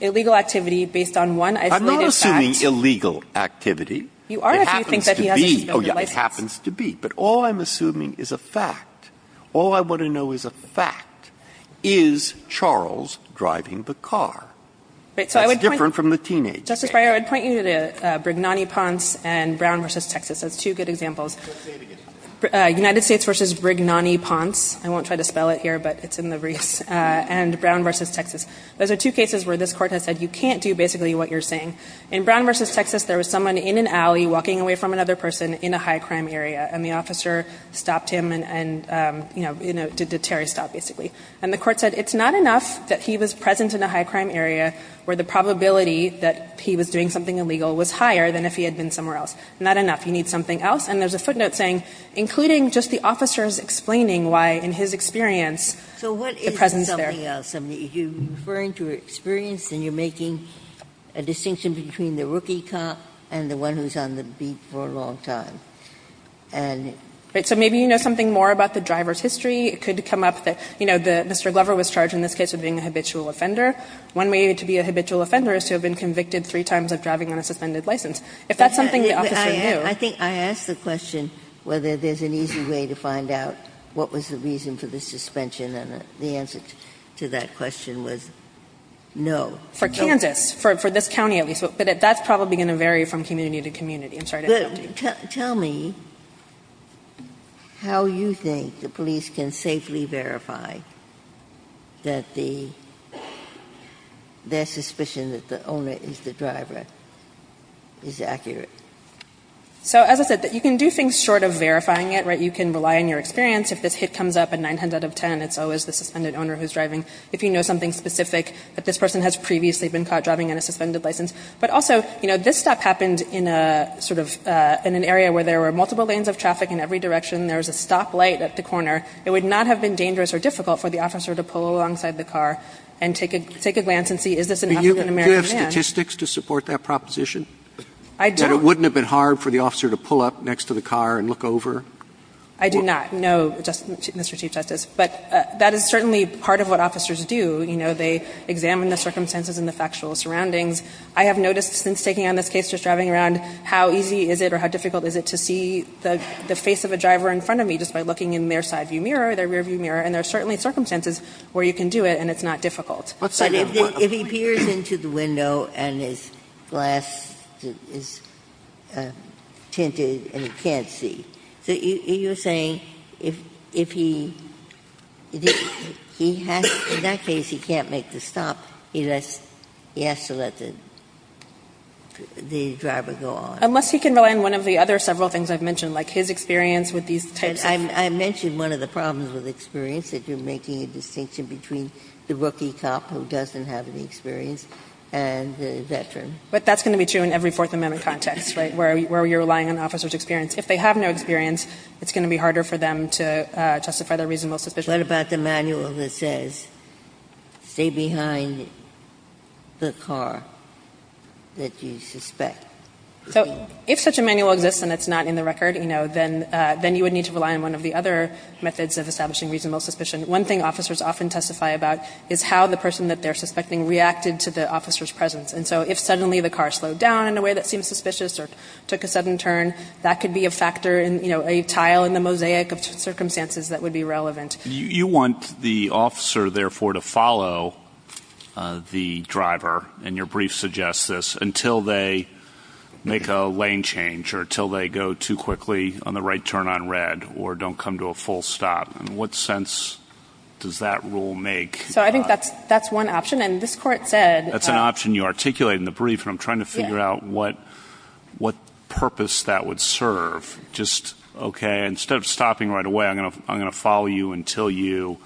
illegal activity based on one isolated fact. I'm not assuming illegal activity. You are if you think that he has a suspended license. It happens to be. But all I'm assuming is a fact. All I want to know is a fact. Is Charles driving the car? That's different from the teenage thing. Justice Breyer, I would point you to Brignani-Ponce and Brown v. Texas as two good examples. United States v. Brignani-Ponce. I won't try to spell it here, but it's in the briefs. And Brown v. Texas. Those are two cases where this Court has said you can't do basically what you're saying. In Brown v. Texas, there was someone in an alley walking away from another person in a high-crime area, and the officer stopped him and, you know, did Terry stop, basically. And the Court said it's not enough that he was present in a high-crime area where the probability that he was doing something illegal was higher than if he had been somewhere else. Not enough. You need something else. And there's a footnote saying, including just the officers explaining why, in his experience, the presence there. Ginsburg. So what is the something else? I mean, if you're referring to an experience, then you're making a distinction between the rookie cop and the one who's on the beat for a long time. And so maybe you know something more about the driver's history. It could come up that, you know, Mr. Glover was charged in this case with being a habitual offender. One way to be a habitual offender is to have been convicted three times of driving on a suspended license. If that's something the officer knew. I think I asked the question whether there's an easy way to find out what was the reason for the suspension, and the answer to that question was no. For Kansas, for this county at least. But that's probably going to vary from community to community. I'm sorry to interrupt you. Tell me how you think the police can safely verify that their suspicion that the owner is the driver is accurate. So as I said, you can do things short of verifying it, right? You can rely on your experience. If this hit comes up, a nine hundred out of ten, it's always the suspended owner who's driving. If you know something specific that this person has previously been caught driving on a suspended license. But also, you know, this stop happened in a sort of, in an area where there were multiple lanes of traffic in every direction. There was a stoplight at the corner. It would not have been dangerous or difficult for the officer to pull alongside the car and take a glance and see is this an African-American man. Do you have statistics to support that proposition? I don't. That it wouldn't have been hard for the officer to pull up next to the car and look over? I do not. No, Mr. Chief Justice. But that is certainly part of what officers do. You know, they examine the circumstances and the factual surroundings. I have noticed since taking on this case, just driving around, how easy is it or how difficult is it to see the face of a driver in front of me just by looking in their side view mirror, their rear view mirror. And there are certainly circumstances where you can do it and it's not difficult. But if he peers into the window and his glass is tinted and he can't see, so you're saying if he, in that case he can't make the stop, he has to let the driver go on. Unless he can rely on one of the other several things I've mentioned, like his experience with these types of things. I mentioned one of the problems with experience, that you're making a distinction between the rookie cop who doesn't have any experience and the veteran. But that's going to be true in every Fourth Amendment context, right, where you're relying on officers' experience. If they have no experience, it's going to be harder for them to justify their reasonable suspicion. Ginsburg. What about the manual that says stay behind the car that you suspect? So if such a manual exists and it's not in the record, you know, then you would need to rely on one of the other methods of establishing reasonable suspicion. One thing officers often testify about is how the person that they're suspecting reacted to the officer's presence. And so if suddenly the car slowed down in a way that seems suspicious or took a sudden turn, that could be a factor in, you know, a tile in the mosaic of circumstances that would be relevant. You want the officer, therefore, to follow the driver, and your brief suggests this, until they make a lane change or until they go too quickly on the right turn on red or don't come to a full stop. In what sense does that rule make? So I think that's one option. And this Court said— That's an option you articulated in the brief. And I'm trying to figure out what purpose that would serve. Just, okay, instead of stopping right away, I'm going to follow you until you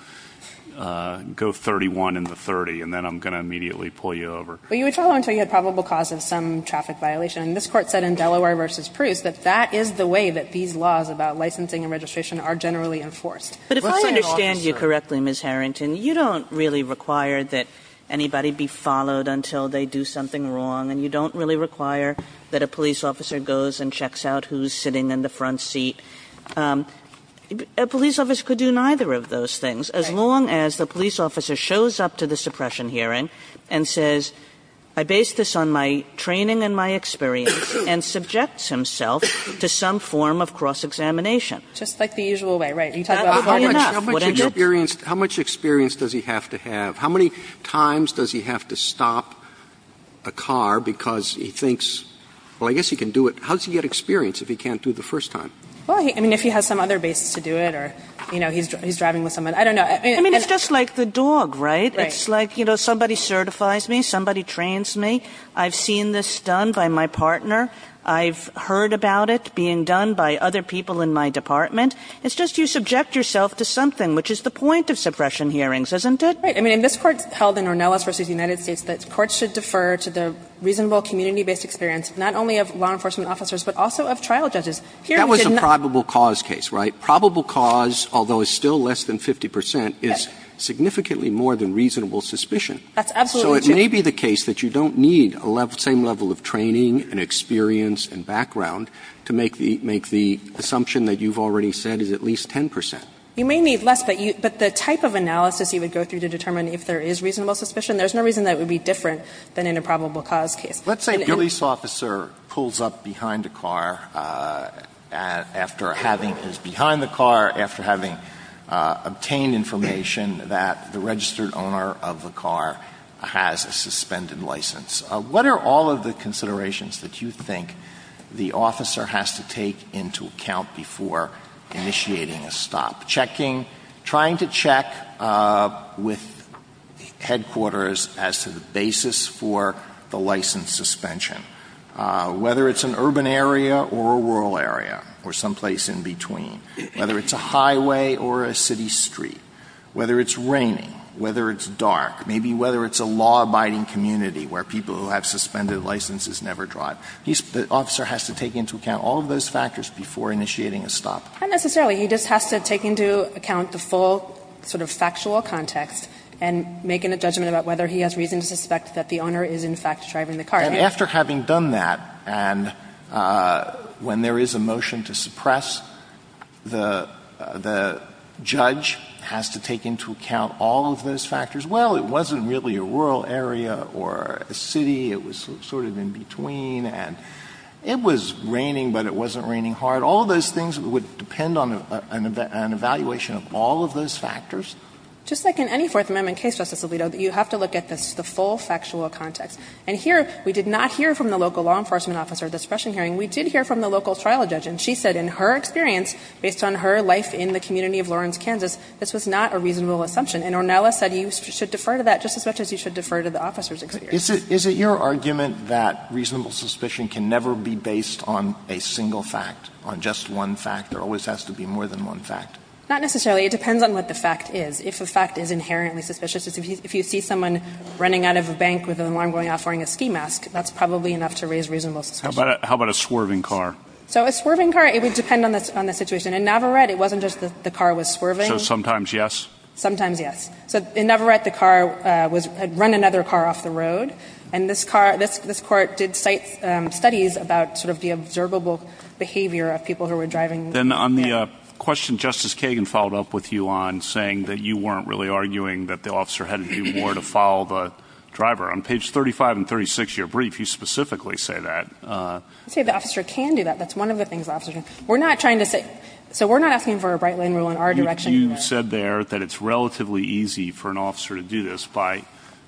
go 31 into 30, and then I'm going to immediately pull you over. Well, you would follow until you had probable cause of some traffic violation. And this Court said in Delaware v. Proust that that is the way that these laws about licensing and registration are generally enforced. But if I understand you correctly, Ms. Harrington, you don't really require that a police officer goes and checks out who's sitting in the front seat. A police officer could do neither of those things, as long as the police officer shows up to the suppression hearing and says, I based this on my training and my experience and subjects himself to some form of cross-examination. Just like the usual way, right. You talk about— How much experience does he have to have? How many times does he have to stop a car because he thinks, well, I guess he can do it. How does he get experience if he can't do it the first time? Well, I mean, if he has some other basis to do it or, you know, he's driving with someone. I don't know. I mean, it's just like the dog, right. It's like, you know, somebody certifies me, somebody trains me. I've seen this done by my partner. I've heard about it being done by other people in my department. It's just you subject yourself to something, which is the point of suppression hearings, isn't it? Right. I mean, this Court held in Ornelas v. United States that courts should defer to the reasonable community-based experience, not only of law enforcement officers, but also of trial judges. That was a probable cause case, right. Probable cause, although it's still less than 50 percent, is significantly more than reasonable suspicion. That's absolutely true. So it may be the case that you don't need the same level of training and experience and background to make the assumption that you've already said is at least 10 percent. You may need less, but the type of analysis you would go through to determine if there is reasonable suspicion, there's no reason that it would be different than in a probable cause case. Let's say a police officer pulls up behind a car after having his behind the car, after having obtained information that the registered owner of the car has a suspended license. What are all of the considerations that you think the officer has to take into account before initiating a stop? Checking, trying to check with headquarters as to the basis for the license suspension. Whether it's an urban area or a rural area or someplace in between. Whether it's a highway or a city street. Whether it's raining. Whether it's dark. Maybe whether it's a law-abiding community where people who have suspended licenses never drive. The officer has to take into account all of those factors before initiating a stop. Not necessarily. He just has to take into account the full sort of factual context and make a judgment about whether he has reason to suspect that the owner is in fact driving the car. And after having done that, and when there is a motion to suppress, the judge has to take into account all of those factors. Well, it wasn't really a rural area or a city. It was sort of in between. And it was raining, but it wasn't raining hard. All of those things would depend on an evaluation of all of those factors. Just like in any Fourth Amendment case, Justice Alito, you have to look at this, the full factual context. And here, we did not hear from the local law enforcement officer at the suppression hearing. We did hear from the local trial judge. And she said in her experience, based on her life in the community of Lawrence, Kansas, this was not a reasonable assumption. And Ornella said you should defer to that just as much as you should defer to the officer's experience. Is it your argument that reasonable suspicion can never be based on a single fact, on just one fact? There always has to be more than one fact. Not necessarily. It depends on what the fact is. If the fact is inherently suspicious, if you see someone running out of a bank with an alarm going off wearing a ski mask, that's probably enough to raise reasonable suspicion. How about a swerving car? So a swerving car, it would depend on the situation. In Navarrete, it wasn't just the car was swerving. So sometimes yes? Sometimes yes. So in Navarrete, the car had run another car off the road. And this court did studies about sort of the observable behavior of people who were driving. Then on the question Justice Kagan followed up with you on saying that you weren't really arguing that the officer had to do more to follow the driver, on page 35 and 36 of your brief, you specifically say that. I say the officer can do that. That's one of the things the officer can do. We're not trying to say so we're not asking for a Bright Line rule in our direction. But you said there that it's relatively easy for an officer to do this by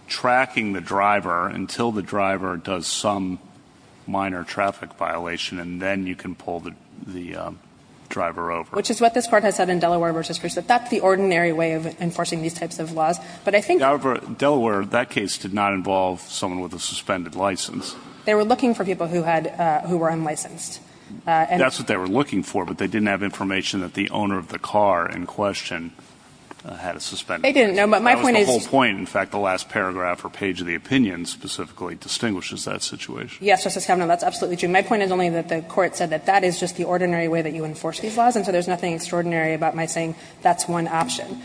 tracking the driver until the driver does some minor traffic violation, and then you can pull the driver over. Which is what this Court has said in Delaware versus Grisham. That's the ordinary way of enforcing these types of laws. However, Delaware, that case did not involve someone with a suspended license. They were looking for people who were unlicensed. That's what they were looking for, but they didn't have information that the owner of the car in question had a suspended license. They didn't know, but my point is. That was the whole point. In fact, the last paragraph or page of the opinion specifically distinguishes that situation. Yes, Justice Kavanaugh, that's absolutely true. My point is only that the Court said that that is just the ordinary way that you enforce these laws, and so there's nothing extraordinary about my saying that's one option.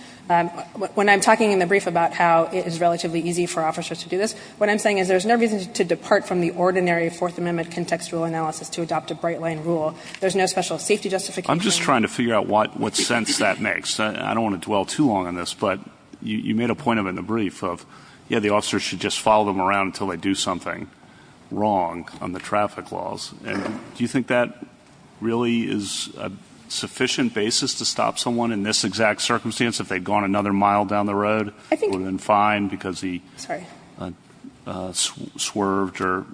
When I'm talking in the brief about how it is relatively easy for officers to do this, what I'm saying is there's no reason to depart from the ordinary Fourth Amendment contextual analysis to adopt a Bright Line rule. There's no special safety justification. I'm just trying to figure out what sense that makes. I don't want to dwell too long on this, but you made a point of it in the brief of, yeah, the officers should just follow them around until they do something wrong on the traffic laws. Do you think that really is a sufficient basis to stop someone in this exact circumstance if they'd gone another mile down the road and would have been fine because he swerved or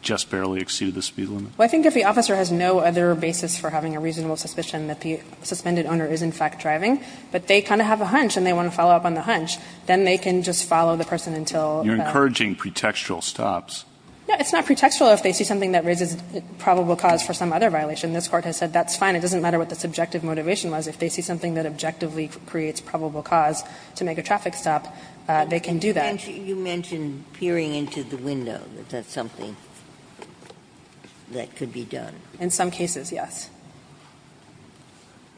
just barely exceeded the speed limit? I think if the officer has no other basis for having a reasonable suspicion that the suspended owner is, in fact, driving, but they kind of have a hunch and they want to follow up on the hunch, then they can just follow the person until that. You're encouraging pretextual stops. No, it's not pretextual if they see something that raises probable cause for some other violation. This Court has said that's fine. It doesn't matter what the subjective motivation was. If they see something that objectively creates probable cause to make a traffic stop, they can do that. You mentioned peering into the window. Is that something that could be done? In some cases, yes.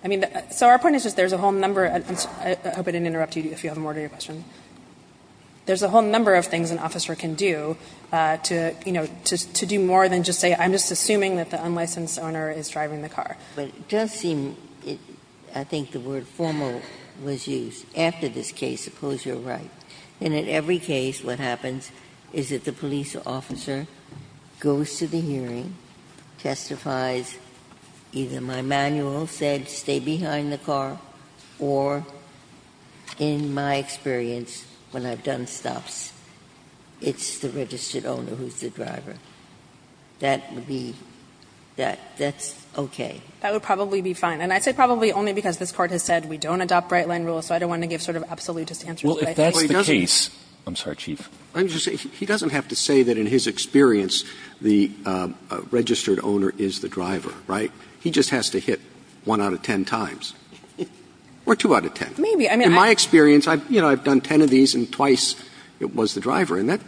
I mean, so our point is just there's a whole number of them. I hope I didn't interrupt you if you have more to your question. There's a whole number of things an officer can do to, you know, to do more than just say I'm just assuming that the unlicensed owner is driving the car. But it does seem, I think the word formal was used after this case. Suppose you're right. In every case, what happens is that the police officer goes to the hearing, testifies either my manual said stay behind the car, or in my experience, when I've done stops, it's the registered owner who's the driver. That would be that's okay. That would probably be fine. And I say probably only because this Court has said we don't adopt Bright Line rules, so I don't want to give sort of absolutist answers. Well, if that's the case. I'm sorry, Chief. He doesn't have to say that in his experience the registered owner is the driver, right? He just has to hit one out of ten times. Or two out of ten. Maybe. In my experience, you know, I've done ten of these and twice it was the driver, and that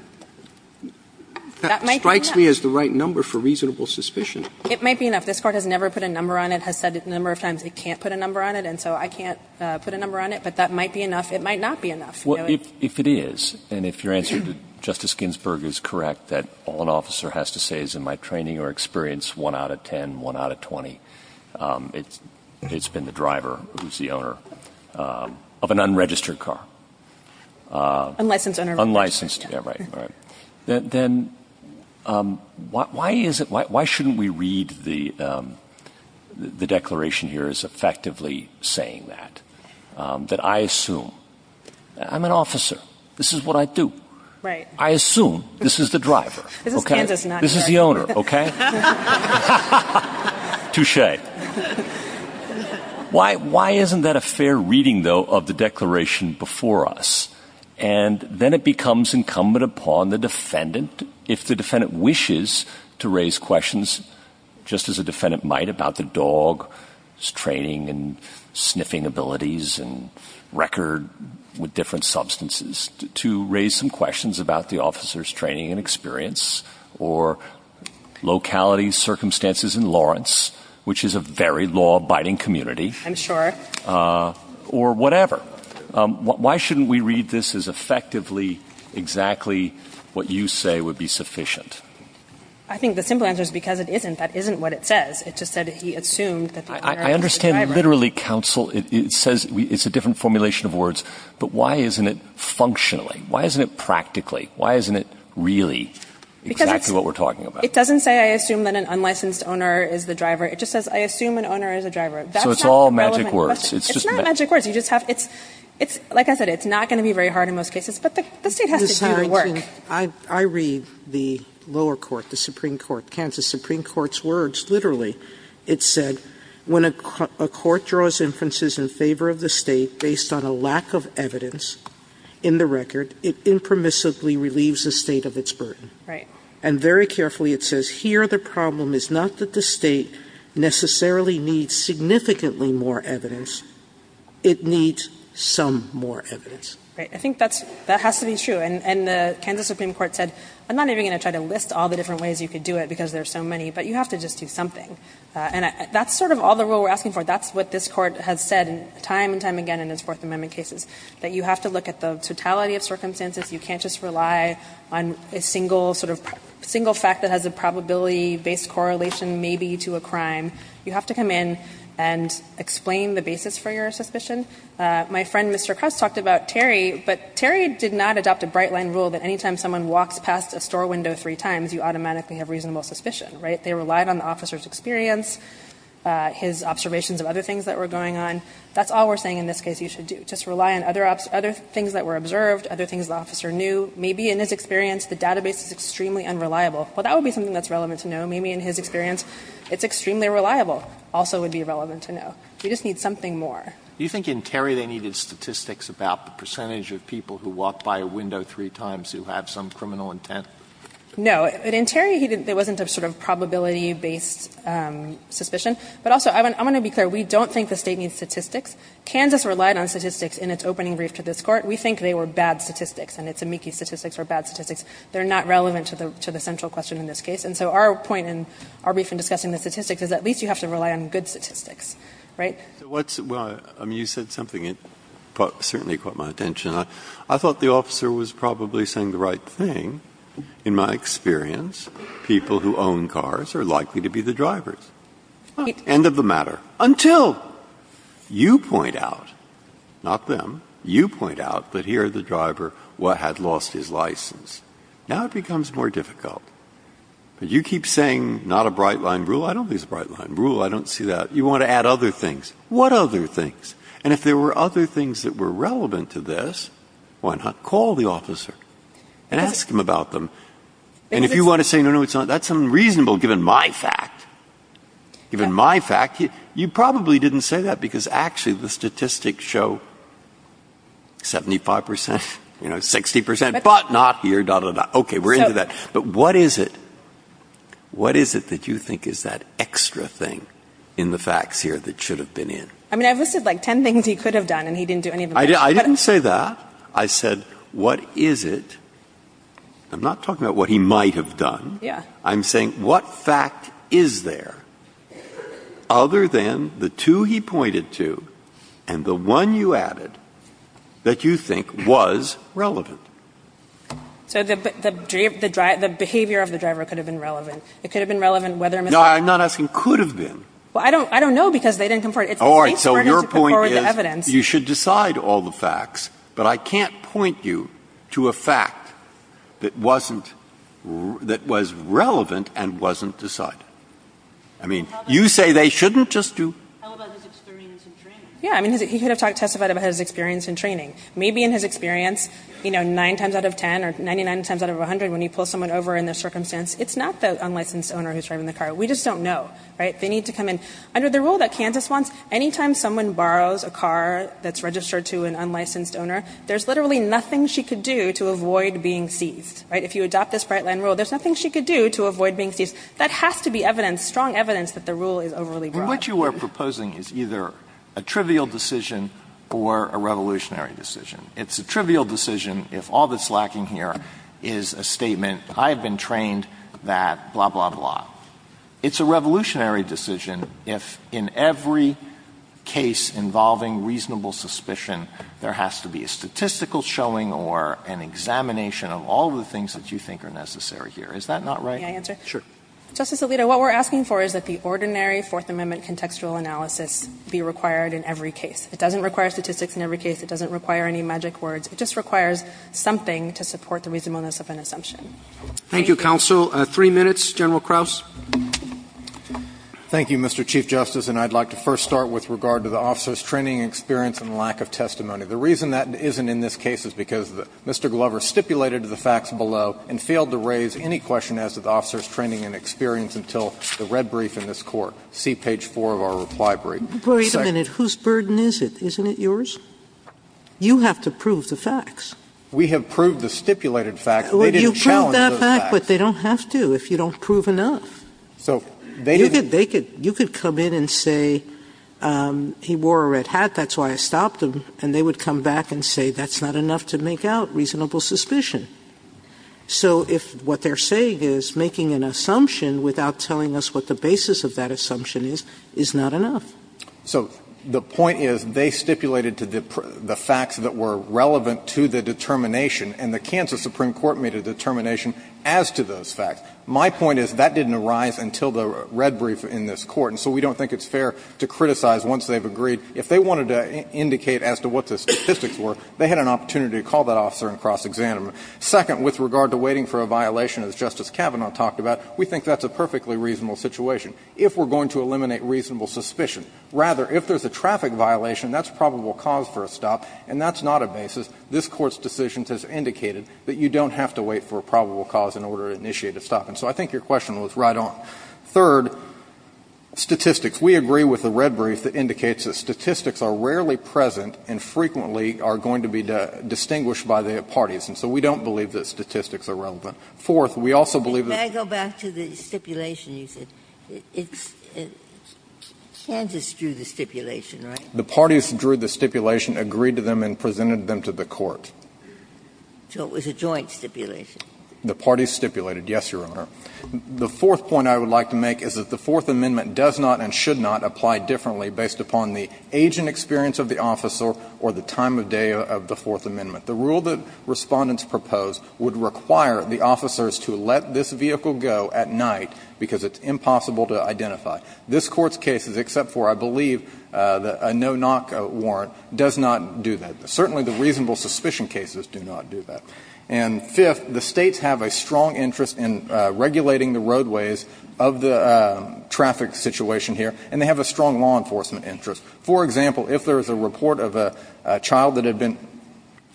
strikes me as the right number for reasonable suspicion. It might be enough. This Court has never put a number on it, has said a number of times it can't put a number on it, and so I can't put a number on it. But that might be enough. It might not be enough. Well, if it is, and if your answer to Justice Ginsburg is correct, that all an officer has to say is in my training or experience, one out of ten, one out of twenty, it's been the driver who's the owner of an unregistered car. Unlicensed. Unlicensed. Yeah, right, right. Then why is it why shouldn't we read the declaration here as effectively saying that, that I assume, I'm an officer. This is what I do. Right. I assume this is the driver. This is Kansas. This is the owner, okay? Touche. Why isn't that a fair reading, though, of the declaration before us? And then it becomes incumbent upon the defendant, if the defendant wishes, to raise questions, just as a defendant might, about the dog's training and sniffing abilities and record with different substances, to raise some questions about the officer's training and experience, or locality circumstances in Lawrence, which is a very law-abiding community. I'm sure. Or whatever. Why shouldn't we read this as effectively exactly what you say would be sufficient? I think the simple answer is because it isn't. That isn't what it says. It just said he assumed that the owner was the driver. I understand literally counsel. It says it's a different formulation of words. But why isn't it functionally? Why isn't it practically? Why isn't it really exactly what we're talking about? It doesn't say I assume that an unlicensed owner is the driver. It just says I assume an owner is a driver. So it's all magic words. It's not magic words. Like I said, it's not going to be very hard in most cases. But the State has to do the work. I read the lower court, the Supreme Court, Kansas Supreme Court's words. Literally it said when a court draws inferences in favor of the State based on a lack of evidence in the record, it impermissibly relieves the State of its burden. Right. And very carefully it says here the problem is not that the State necessarily needs significantly more evidence. It needs some more evidence. Right. I think that has to be true. And the Kansas Supreme Court said I'm not even going to try to list all the different ways you could do it because there are so many, but you have to just do something. And that's sort of all the rule we're asking for. That's what this Court has said time and time again in its Fourth Amendment cases, that you have to look at the totality of circumstances. You can't just rely on a single sort of single fact that has a probability-based correlation maybe to a crime. You have to come in and explain the basis for your suspicion. My friend Mr. Crouse talked about Terry, but Terry did not adopt a bright line rule that any time someone walks past a store window three times you automatically have reasonable suspicion. Right. They relied on the officer's experience, his observations of other things that were going on. That's all we're saying in this case you should do. Just rely on other things that were observed, other things the officer knew. Maybe in his experience the database is extremely unreliable. Well, that would be something that's relevant to know. Maybe in his experience it's extremely reliable also would be relevant to know. We just need something more. Do you think in Terry they needed statistics about the percentage of people who walk by a window three times who have some criminal intent? No. In Terry there wasn't a sort of probability-based suspicion. But also, I want to be clear. We don't think the State needs statistics. Kansas relied on statistics in its opening brief to this Court. We think they were bad statistics, and it's amici statistics or bad statistics. They're not relevant to the central question in this case. And so our point in our brief in discussing the statistics is at least you have to rely on good statistics. Right? Well, you said something that certainly caught my attention. I thought the officer was probably saying the right thing. In my experience, people who own cars are likely to be the drivers. End of the matter. Until you point out, not them, you point out that here the driver had lost his license. Now it becomes more difficult. But you keep saying not a bright-line rule. I don't think it's a bright-line rule. I don't see that. You want to add other things. What other things? And if there were other things that were relevant to this, why not call the officer and ask him about them? And if you want to say, no, no, that's unreasonable given my fact, given my fact, you probably didn't say that because actually the statistics show 75 percent, 60 percent, but not here, da, da, da. Okay, we're into that. But what is it, what is it that you think is that extra thing in the facts here that should have been in? I mean, I've listed, like, ten things he could have done and he didn't do any of them. I didn't say that. I said, what is it? I'm not talking about what he might have done. Yeah. I'm saying what fact is there other than the two he pointed to and the one you added that you think was relevant? So the behavior of the driver could have been relevant. It could have been relevant whether or not. No, I'm not asking could have been. Well, I don't know because they didn't come forward. All right. So your point is you should decide all the facts. But I can't point you to a fact that wasn't, that was relevant and wasn't decided. I mean, you say they shouldn't just do. How about his experience in training? Yeah. I mean, he could have testified about his experience in training. Maybe in his experience, you know, nine times out of ten or 99 times out of 100 when he pulls someone over in this circumstance, it's not the unlicensed owner who's driving the car. We just don't know. Right? They need to come in. Under the rule that Kansas wants, anytime someone borrows a car that's registered to an unlicensed owner, there's literally nothing she could do to avoid being seized. Right? If you adopt this Bright Line rule, there's nothing she could do to avoid being seized. That has to be evidence, strong evidence that the rule is overly broad. So what you are proposing is either a trivial decision or a revolutionary decision. It's a trivial decision if all that's lacking here is a statement, I have been trained that blah, blah, blah. It's a revolutionary decision if in every case involving reasonable suspicion, there has to be a statistical showing or an examination of all the things that you think are necessary here. Is that not right? May I answer? Sure. Justice Alito, what we're asking for is that the ordinary Fourth Amendment contextual analysis be required in every case. It doesn't require statistics in every case. It doesn't require any magic words. It just requires something to support the reasonableness of an assumption. Thank you. Thank you, counsel. Three minutes, General Krauss. Thank you, Mr. Chief Justice, and I'd like to first start with regard to the officer's training experience and lack of testimony. The reason that isn't in this case is because Mr. Glover stipulated the facts below and failed to raise any question as to the officer's training and experience until the red brief in this Court. See page 4 of our reply brief. Wait a minute. Whose burden is it? Isn't it yours? You have to prove the facts. We have proved the stipulated facts. They didn't challenge those facts. Well, you proved that fact, but they don't have to if you don't prove enough. So they didn't. You could come in and say he wore a red hat, that's why I stopped him, and they would come back and say that's not enough to make out reasonable suspicion. So if what they're saying is making an assumption without telling us what the basis of that assumption is, is not enough. So the point is they stipulated the facts that were relevant to the determination, and the Kansas Supreme Court made a determination as to those facts. My point is that didn't arise until the red brief in this Court, and so we don't think it's fair to criticize once they've agreed. If they wanted to indicate as to what the statistics were, they had an opportunity to call that officer and cross-examine him. Second, with regard to waiting for a violation, as Justice Kavanaugh talked about, we think that's a perfectly reasonable situation, if we're going to eliminate reasonable suspicion. Rather, if there's a traffic violation, that's probable cause for a stop, and that's not a basis. This Court's decision has indicated that you don't have to wait for a probable cause in order to initiate a stop. And so I think your question was right on. Third, statistics. We agree with the red brief that indicates that statistics are rarely present and frequently are going to be distinguished by the parties, and so we don't believe that statistics are relevant. Fourth, we also believe that the Court's decision is not a reasonable situation. Ginsburg. And may I go back to the stipulation you said? Kansas drew the stipulation, right? The parties drew the stipulation, agreed to them, and presented them to the Court. So it was a joint stipulation? The parties stipulated, yes, Your Honor. The fourth point I would like to make is that the Fourth Amendment does not and should not apply differently based upon the age and experience of the officer or the time of day of the Fourth Amendment. The rule that Respondents proposed would require the officers to let this vehicle go at night because it's impossible to identify. This Court's case, except for, I believe, a no-knock warrant, does not do that. Certainly the reasonable suspicion cases do not do that. And fifth, the States have a strong interest in regulating the roadways of the traffic situation here, and they have a strong law enforcement interest. For example, if there is a report of a child that had been ----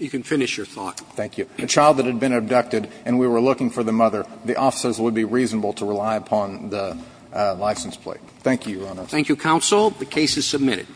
You can finish your thought. Thank you. A child that had been abducted and we were looking for the mother, the officers would be reasonable to rely upon the license plate. Thank you, Your Honor. Thank you, counsel. The case is submitted.